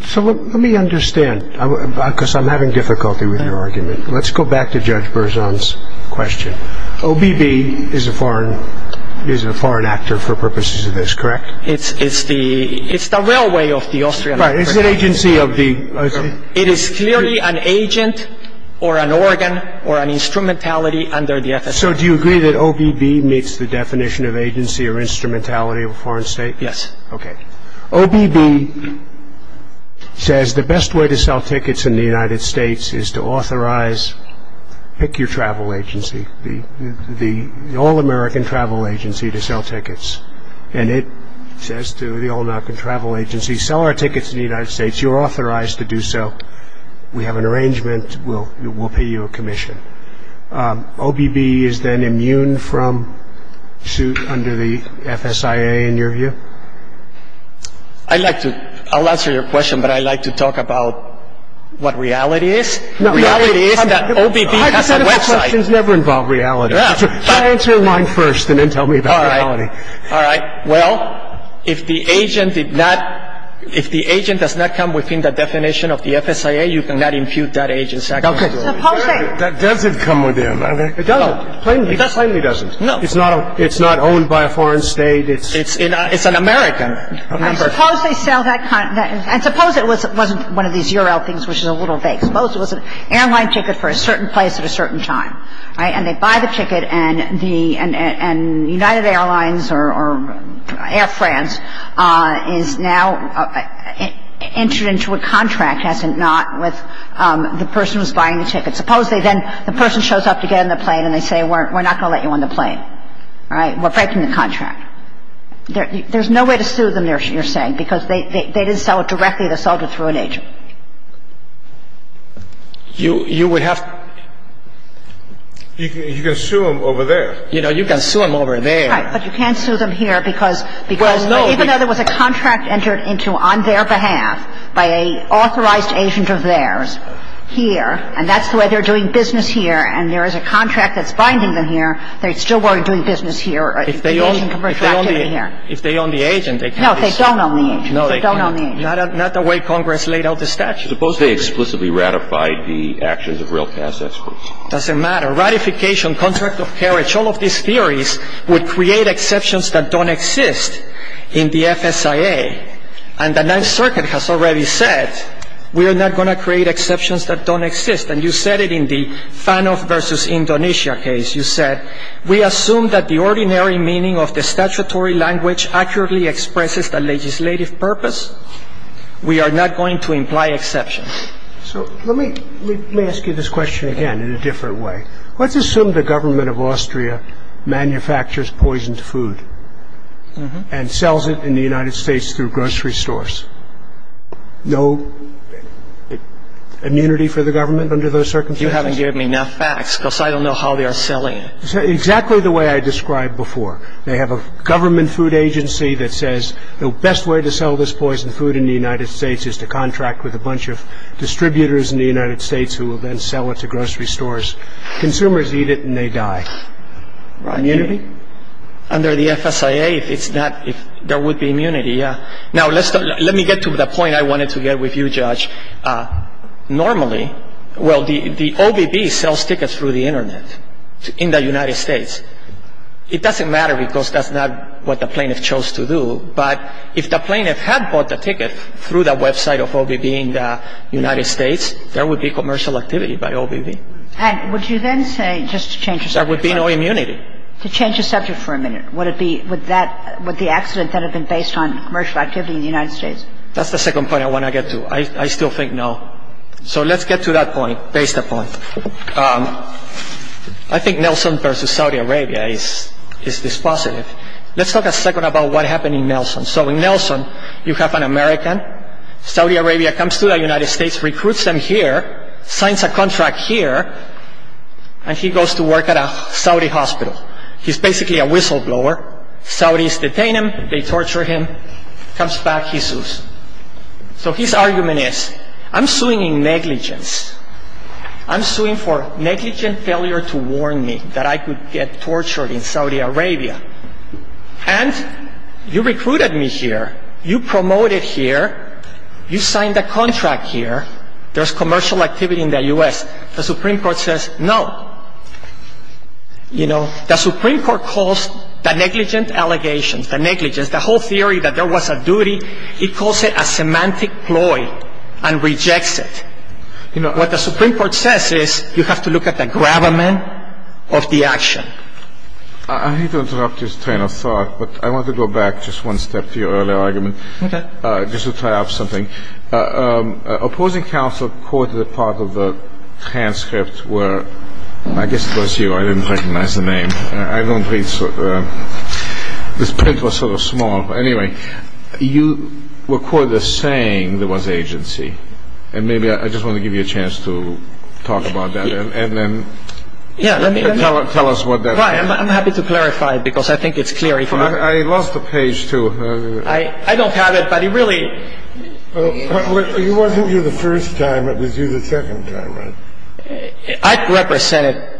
So let me understand, because I'm having difficulty with your argument. Let's go back to Judge Berzon's question. OBB is a foreign actor for purposes of this, correct? It's the railway of the Austrian Empire. Right. Is it agency of the? It is clearly an agent or an organ or an instrumentality under the FSA. So do you agree that OBB meets the definition of agency or instrumentality of a foreign state? Yes. Okay. OBB says the best way to sell tickets in the United States is to authorize, pick your travel agency, the all-American travel agency to sell tickets. And it says to the all-American travel agency, sell our tickets to the United States. You're authorized to do so. We have an arrangement. We'll pay you a commission. OBB is then immune from suit under the FSIA in your view? I'll answer your question, but I'd like to talk about what reality is. Reality is that OBB has a website. It never involved reality. So answer mine first and then tell me about reality. All right. Well, if the agent did not – if the agent does not come within the definition of the FSIA, you cannot impute that agency. It doesn't come within. It doesn't. It plainly doesn't. No. It's not owned by a foreign state. It's an American. I suppose they sell that – I suppose it wasn't one of these URL things which in a little bit, I suppose it was an airline ticket for a certain place at a certain time. All right. And they buy the ticket and the United Airlines or Air France is now entered into a contract, as in not with the person who's buying the ticket. Suppose they then – the person shows up to get on the plane and they say, we're not going to let you on the plane. All right. We're breaking the contract. There's no way to sue them, you're saying, because they didn't sell it directly. You would have – you can sue them over there. You know, you can sue them over there. But you can't sue them here because even though there was a contract entered into on their behalf by an authorized agent of theirs here, and that's the way they're doing business here, and there is a contract that's binding them here, they still weren't doing business here. If they own the agent, they can't be sued. No, they don't own the agent. They don't own the agent. Not the way Congress laid out the statute. Suppose they explicitly ratified the actions of railcass experts. It doesn't matter. Ratification, contract of carriage, all of these theories would create exceptions that don't exist in the FSIA. And the Ninth Circuit has already said, we are not going to create exceptions that don't exist. And you said it in the Panov versus Indonesia case. We assume that the ordinary meaning of the statutory language accurately expresses the legislative purpose. We are not going to imply exceptions. So let me ask you this question again in a different way. Let's assume the government of Austria manufactures poisoned food and sells it in the United States through grocery stores. No immunity for the government under those circumstances? You haven't given me enough facts because I don't know how they are selling it. Exactly the way I described before. They have a government food agency that says the best way to sell this poisoned food in the United States is to contract with a bunch of distributors in the United States who will then sell it to grocery stores. Consumers eat it and they die. Under the FSIA, there would be immunity. Now, let me get to the point I wanted to get with you, Judge. Normally, well, the OVB sells tickets through the Internet in the United States. It doesn't matter because that's not what the plaintiff chose to do. But if the plaintiff had bought the ticket through the website of OVB in the United States, there would be commercial activity by OVB. Hank, would you then say just to change the subject? There would be no immunity. To change the subject for a minute, would the accident then have been based on commercial activity in the United States? That's the second point I want to get to. I still think no. So let's get to that point, basic point. I think Nelson versus Saudi Arabia is dispositive. Let's talk a second about what happened in Nelson. So in Nelson, you have an American. Saudi Arabia comes to the United States, recruits them here, signs a contract here, and he goes to work at a Saudi hospital. He's basically a whistleblower. Saudis detain him. They torture him. He comes back. He sues. So his argument is, I'm suing in negligence. I'm suing for negligent failure to warn me that I could get tortured in Saudi Arabia. And you recruited me here. You promoted here. You signed a contract here. There's commercial activity in the U.S. The Supreme Court says no. You know, the Supreme Court calls the negligent allegations, the negligence, the whole theory that there was a duty, it calls it a semantic ploy and rejects it. You know, what the Supreme Court says is you have to look at the gravamen of the action. I hate to interrupt this train of thought, but I want to go back just one step to your earlier argument. Okay. Just to tie up something. Opposing counsel quoted a part of the transcript where I guess it was you. I didn't recognize the name. I don't read. This print was sort of small. Anyway, you were quoted as saying there was agency. And maybe I just want to give you a chance to talk about that and then tell us what that is. I'm happy to clarify it because I think it's clear. I lost the page, too. I don't have it, but it really. It wasn't you the first time. It was you the second time. I represented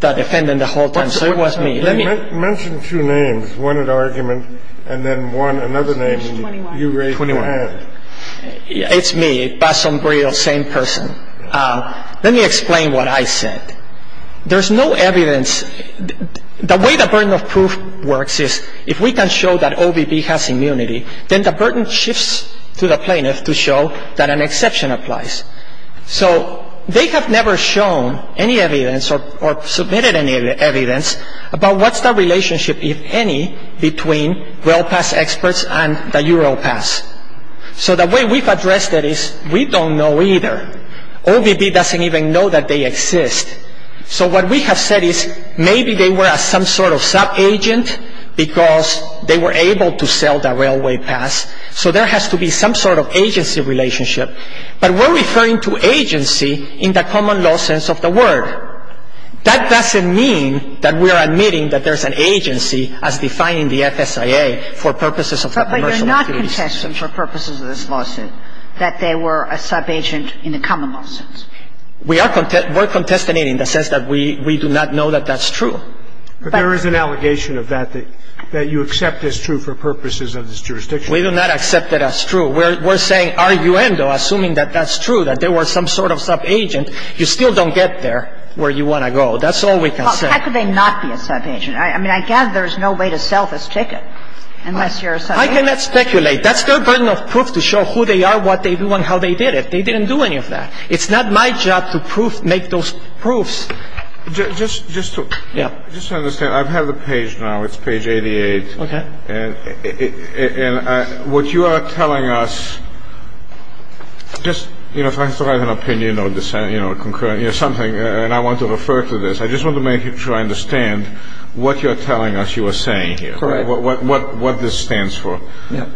the defendant the whole time, so it wasn't me. Mention two names, one in argument and then one, another name you raised your hand. It's me, Basombrio, same person. Let me explain what I said. There's no evidence. The way the burden of proof works is if we can show that OBB has immunity, then the burden shifts to the plaintiff to show that an exception applies. So they have never shown any evidence or submitted any evidence about what's the relationship, if any, between well-passed experts and the Europass. So the way we've addressed it is we don't know either. OBB doesn't even know that they exist. So what we have said is maybe they were some sort of sub-agent because they were able to sell the railway pass, so there has to be some sort of agency relationship. But we're referring to agency in the common law sense of the word. That doesn't mean that we're admitting that there's an agency as defined in the FSIA for purposes of the commercial experience. But you're not contesting for purposes of this lawsuit that they were a sub-agent in the common law sense. We're contesting it in the sense that we do not know that that's true. There is an allegation of that that you accept as true for purposes of this jurisdiction. We do not accept that as true. We're arguing, though, assuming that that's true, that they were some sort of sub-agent. You still don't get there where you want to go. That's all we can say. How could they not be a sub-agent? I mean, I guess there's no way to sell this ticket unless you're a sub-agent. I cannot speculate. That's no burden of proof to show who they are, what they do, and how they did it. They didn't do any of that. It's not my job to make those proofs. Just to understand, I've had the page now. It's page 88. Okay. And what you are telling us, just, you know, if I have an opinion or something, and I want to refer to this, I just want to make sure I understand what you're telling us you are saying here, what this stands for. Yeah.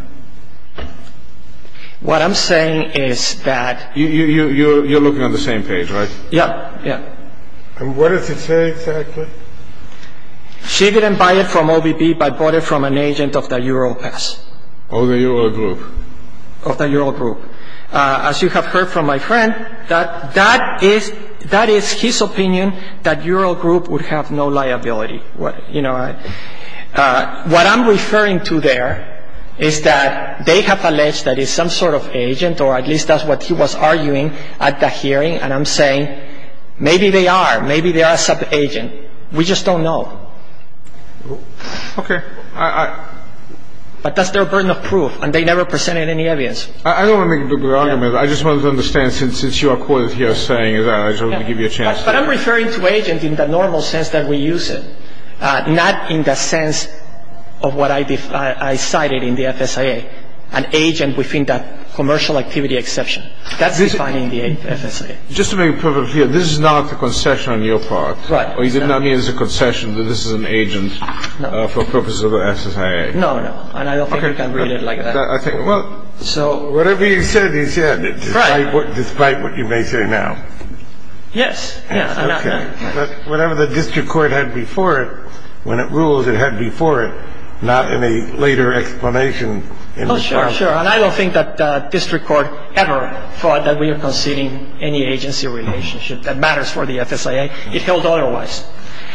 What I'm saying is that... You're looking at the same page, right? Yeah, yeah. And what does it say exactly? She didn't buy it from OBD, but bought it from an agent of the Europass. Of the Eurogroup. Of the Eurogroup. As you have heard from my friend, that is his opinion, that Eurogroup would have no liability. What I'm referring to there is that they have alleged that it's some sort of agent, or at least that's what he was arguing at the hearing, and I'm saying maybe they are. Maybe they are a sub-agent. We just don't know. Okay. But that's their burden of proof, and they never presented any evidence. I don't want to make a big argument. I just wanted to understand, since you are quoted here saying that, I just wanted to give you a chance to... I'm referring to agents in the normal sense that we use it, not in the sense of what I cited in the FSIA, an agent within the commercial activity exception. That's defined in the FSIA. Just to be clear, this is not a concession on your part. Right. You did not mean as a concession that this is an agent for purposes of the FSIA. No, no. And I don't think I read it like that. Whatever you said is here, despite what you may say now. Yes. Okay. Whatever the district court had before it, when it rules, it had before it, not in a later explanation. Oh, sure, sure. And I don't think that the district court ever thought that we were conceding any agency relationship that matters for the FSIA. It held otherwise.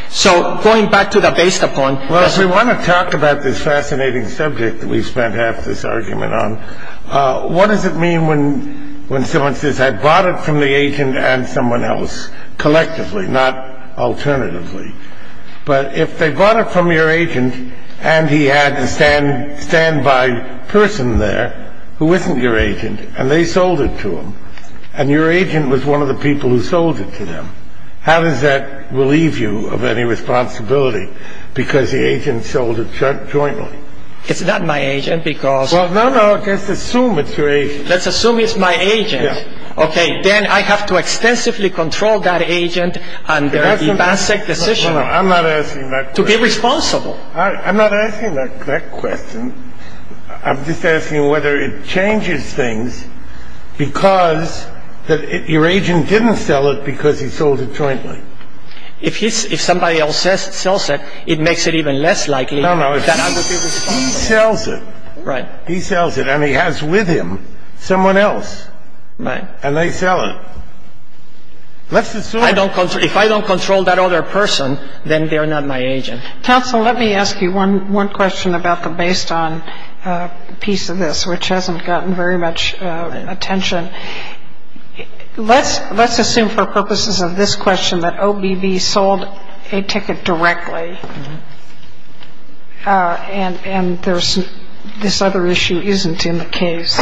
So, going back to the based upon... Well, if we want to talk about this fascinating subject that we spent half this argument on, what does it mean when someone says, I bought it from the agent and someone else, collectively, not alternatively? But if they bought it from your agent and he had a standby person there who isn't your agent and they sold it to him, and your agent was one of the people who sold it to them, how does that relieve you of any responsibility because the agent sold it jointly? It's not my agent because... Well, no, no, let's assume it's your agent. Let's assume it's my agent. Yes. Okay. Then I have to extensively control that agent under the basic decision... I'm not asking that question. ...to be responsible. I'm not asking that question. I'm just asking whether it changes things because your agent didn't sell it because he sold it jointly. If somebody else sells it, it makes it even less likely... No, no. He sells it. Right. He sells it and he has with him someone else. Right. And they sell it. Let's assume... If I don't control that other person, then they're not my agent. Counsel, let me ask you one question about the based on piece of this, which hasn't gotten very much attention. Let's assume for purposes of this question that OBB sold a ticket directly and this other issue isn't in the case.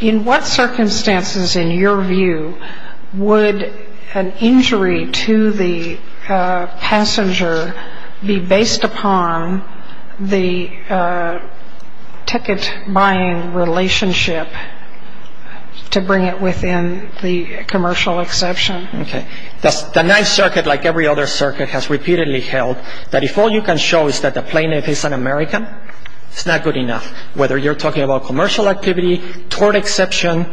In what circumstances, in your view, would an injury to the passenger be based upon the ticket-buying relationship to bring it within the commercial exception? Okay. The ninth circuit, like every other circuit, has repeatedly held that if all you can show is that the plaintiff is an American, it's not good enough. Whether you're talking about commercial activity, tort exception,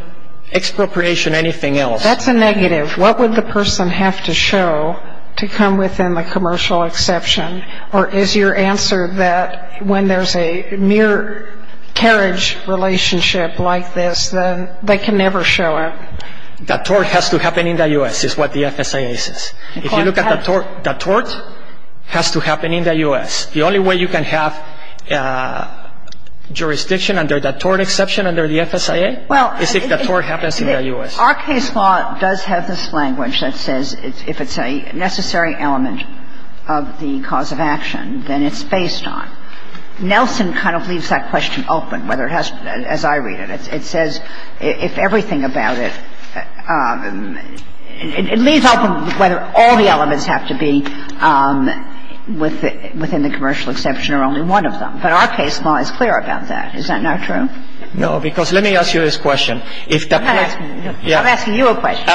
expropriation, anything else. That's a negative. What would the person have to show to come within the commercial exception? Or is your answer that when there's a near carriage relationship like this, then they can never show up? The tort has to happen in the U.S. is what the FSA says. If you look at the tort, the tort has to happen in the U.S. The only way you can have jurisdiction under the tort exception, under the FSA, is if the tort happens in the U.S. Our case law does have this language that says if it's a necessary element of the cause of action, then it's based on. Nelson kind of leaves that question open, as I read it. It says if everything about it, it leaves out whether all the elements have to be within the commercial exception or only one of them. But our case law is clear about that. Is that not true? No, because let me ask you this question. I'm asking you a question.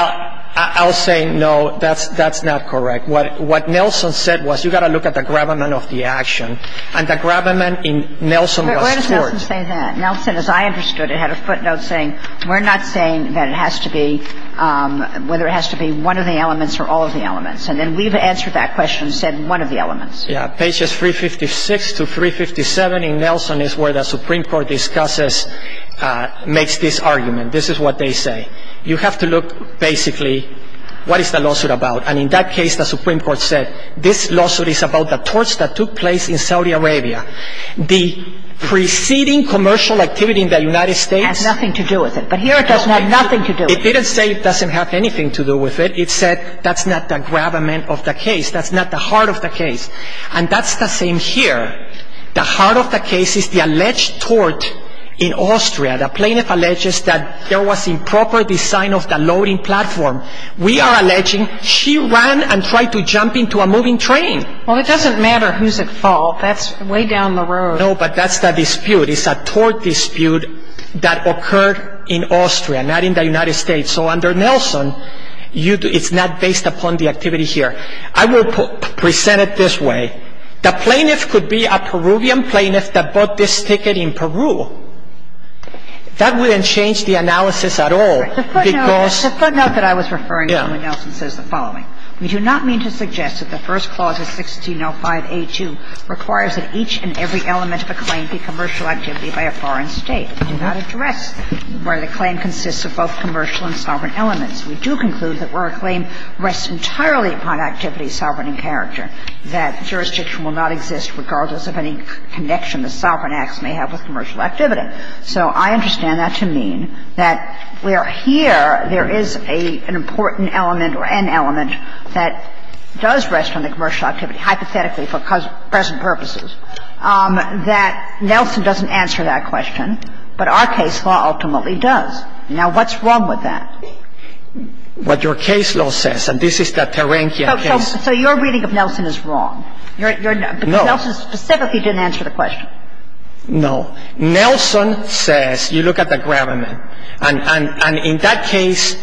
I'll say no, that's not correct. What Nelson said was you've got to look at the gravamen of the action. And the gravamen in Nelson was tort. Where does Nelson say that? Nelson, as I understood it, had a footnote saying we're not saying that it has to be, whether it has to be one of the elements or all of the elements. And then we've answered that question and said one of the elements. Yeah, pages 356 to 357 in Nelson is where the Supreme Court discusses, makes this argument. This is what they say. You have to look, basically, what is the lawsuit about? And in that case, the Supreme Court said this lawsuit is about the torts that took place in Saudi Arabia. The preceding commercial activity in the United States. Has nothing to do with it. But here it doesn't have nothing to do with it. It didn't say it doesn't have anything to do with it. It said that's not the gravamen of the case. That's not the heart of the case. And that's the same here. The heart of the case is the alleged tort in Austria. The plaintiff alleges that there was improper design of the loading platform. We are alleging she ran and tried to jump into a moving train. Well, it doesn't matter who's at fault. That's way down the road. No, but that's the dispute. It's a tort dispute that occurred in Austria, not in the United States. So under Nelson, it's not based upon the activity here. I will present it this way. The plaintiff could be a Peruvian plaintiff that bought this ticket in Peru. That wouldn't change the analysis at all. The footnote that I was referring to in Nelson says the following. We do not mean to suggest that the first clause of 1605A2 requires that each and every element of a claim be commercial activity by a foreign state. We do not address where the claim consists of both commercial and sovereign elements. We do conclude that where a claim rests entirely upon activity, sovereign and character, that jurisdiction will not exist regardless of any connection the sovereign acts may have with commercial activity. So I understand that to mean that where here there is an important element or an element that does rest on the commercial activity, hypothetically for present purposes, that Nelson doesn't answer that question, but our case law ultimately does. Now, what's wrong with that? What your case law says, and this is the Terentia case. So your reading of Nelson is wrong. No. Because Nelson specifically didn't answer the question. No. Nelson says, you look at the gravamen. And in that case,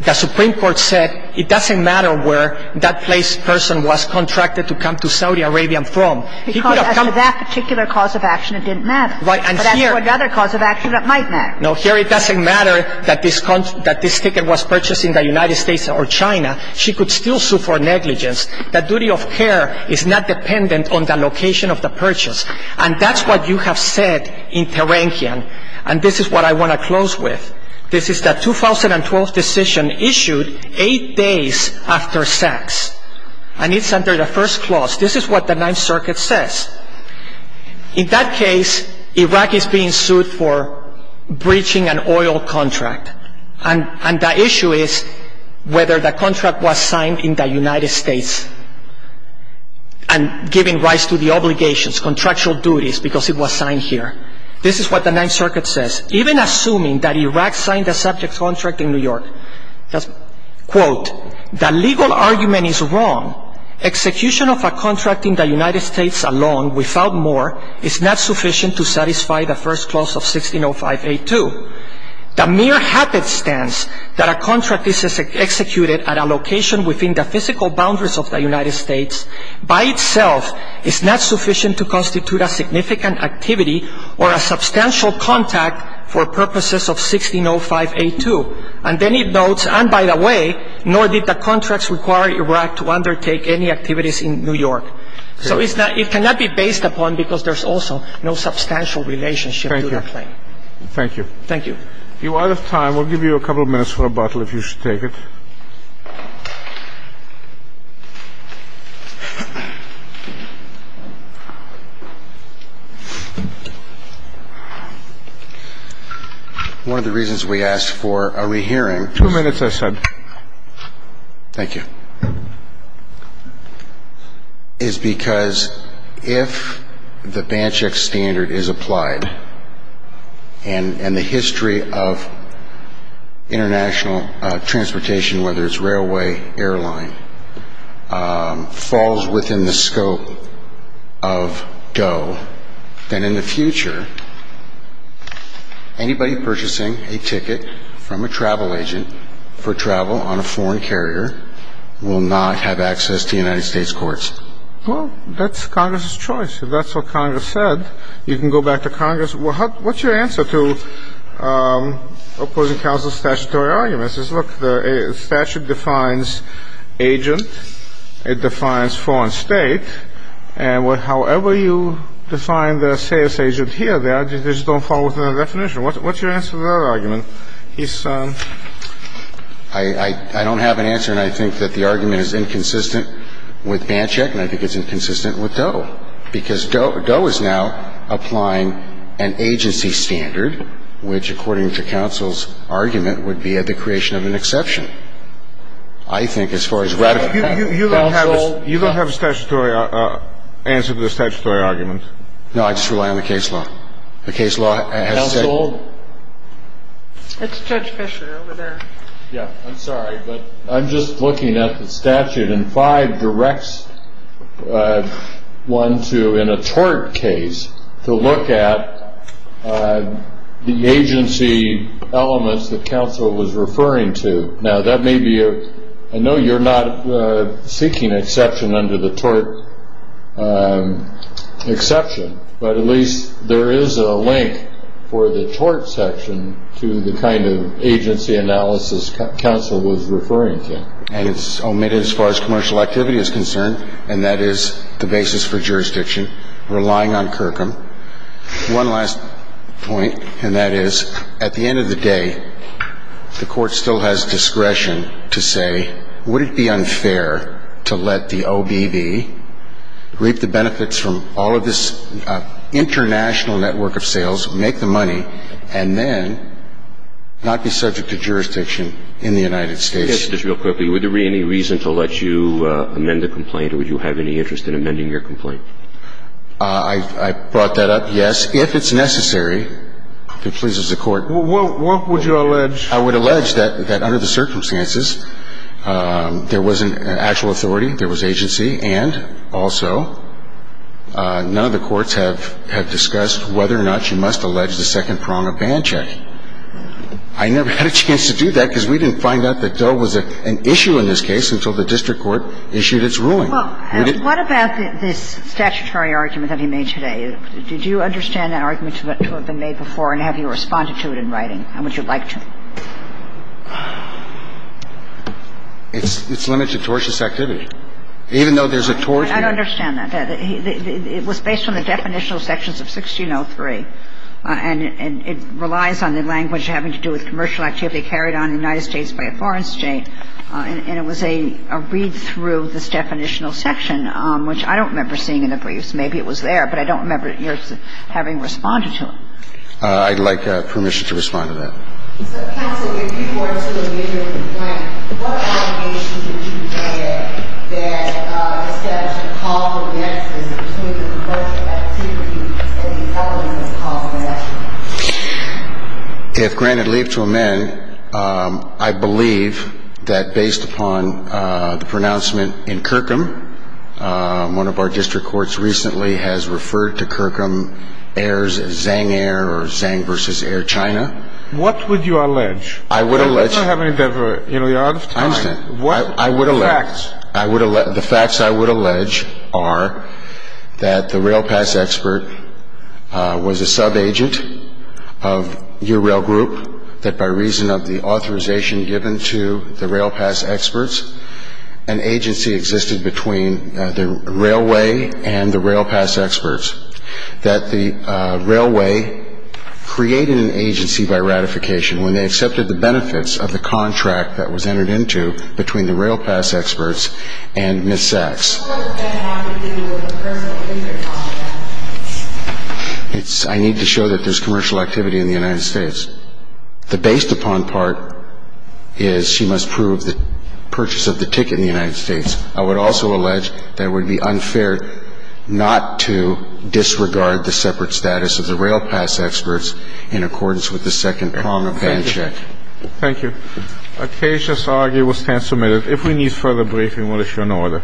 the Supreme Court said it doesn't matter where that person was contracted to come to Saudi Arabia from. Because for that particular cause of action it didn't matter. But for another cause of action it might matter. No, here it doesn't matter that this ticket was purchased in the United States or China. She could still sue for negligence. The duty of care is not dependent on the location of the purchase. And that's what you have said in Terentia. And this is what I want to close with. This is the 2012 decision issued eight days after sex. And it's under the first clause. This is what the Ninth Circuit says. In that case, Iraq is being sued for breaching an oil contract. And the issue is whether the contract was signed in the United States. And giving rise to the obligations, contractual duties, because it was signed here. This is what the Ninth Circuit says. Even assuming that Iraq signed the subject contract in New York. Quote, the legal argument is wrong. Execution of a contract in the United States alone, without more, is not sufficient to satisfy the first clause of 1605A2. The mere happenstance that a contract is executed at a location within the physical boundaries of the United States, by itself is not sufficient to constitute a significant activity or a substantial contact for purposes of 1605A2. And then it notes, and by the way, nor did the contracts require Iraq to undertake any activities in New York. So it cannot be based upon, because there's also no substantial relationship to the claim. Thank you. Thank you. If you're out of time, we'll give you a couple of minutes for a bottle if you should take it. One of the reasons we asked for a rehearing. Two minutes, I said. Thank you. Is because if the Banchik standard is applied and the history of international transportation, whether it's railway, airline, falls within the scope of DOE, then in the future, anybody purchasing a ticket from a travel agent for travel on a foreign carrier, will not have access to United States courts. Well, that's Congress's choice. If that's what Congress said, you can go back to Congress. What's your answer to opposing counsel's statutory arguments? Look, the statute defines agent. It defines foreign state. And however you define the sales agent here, they just don't fall within the definition. What's your answer to that argument? I don't have an answer, and I think that the argument is inconsistent with Banchik, and I think it's inconsistent with DOE, because DOE is now applying an agency standard, which, according to counsel's argument, would be a decreation of an exception. I think as far as radical counsel goes. You don't have a statutory answer to the statutory arguments. No, I just rely on the case law. The case law has said. Counsel? That's Judge Fisher over there. Yeah, I'm sorry, but I'm just looking at the statute, and five directs one to, in a tort case, to look at the agency elements that counsel was referring to. Now, that may be a-I know you're not seeking exception under the tort exception, but at least there is a link for the tort section to the kind of agency analysis counsel was referring to. And it's omitted as far as commercial activity is concerned, and that is the basis for jurisdiction, relying on Kirkham. One last point, and that is, at the end of the day, the court still has discretion to say, would it be unfair to let the OBB reap the benefits from all of this international network of sales, make the money, and then not be subject to jurisdiction in the United States? Just real quickly, would there be any reason to let you amend the complaint, or would you have any interest in amending your complaint? I brought that up, yes. If it's necessary, it pleases the court. What would you allege? I would allege that under the circumstances, there wasn't actual authority. There was agency. And also, none of the courts have discussed whether or not you must allege the second prong of band check. I never had a chance to do that, because we didn't find out that Doe was an issue in this case until the district court issued its ruling. What about this statutory argument that you made today? Did you understand that argument to have been made before, and have you responded to it in writing? How would you like to? It's limited to tortious activity, even though there's a tort here. I understand that. It was based on the definitional sections of 1603, and it relies on the language having to do with commercial activity carried on in the United States by a foreign state, and it was a read-through of this definitional section, which I don't remember seeing in the briefs. Maybe it was there, but I don't remember having responded to it. I'd like permission to respond to that. Counsel, if you were to amend your complaint, what amendment would you say that says that the call for amendment is limited to tortious activity, and the element of call for amendment? If granted leave to amend, I believe that based upon the pronouncement in Kirkham, one of our district courts recently has referred to Kirkham heirs as Zang heir, or Zang versus heir China. What would you allege? I would allege the facts. The facts I would allege are that the rail pass expert was a sub-agent of your rail group, that by reason of the authorization given to the rail pass experts, an agency existed between the railway and the rail pass experts, that the railway created an agency by ratification when they accepted the benefits of the contract that was entered into between the rail pass experts and Ms. Sachs. What does that have to do with the permit in the contract? I need to show that there's commercial activity in the United States. The based upon part is she must prove the purchase of the ticket in the United States. I would also allege that it would be unfair not to disregard the separate status of the rail pass experts in accordance with the second prominent ban check. Thank you. The case is argued and will stand submitted. If we need further briefing, we'll issue an order. We're adjourned.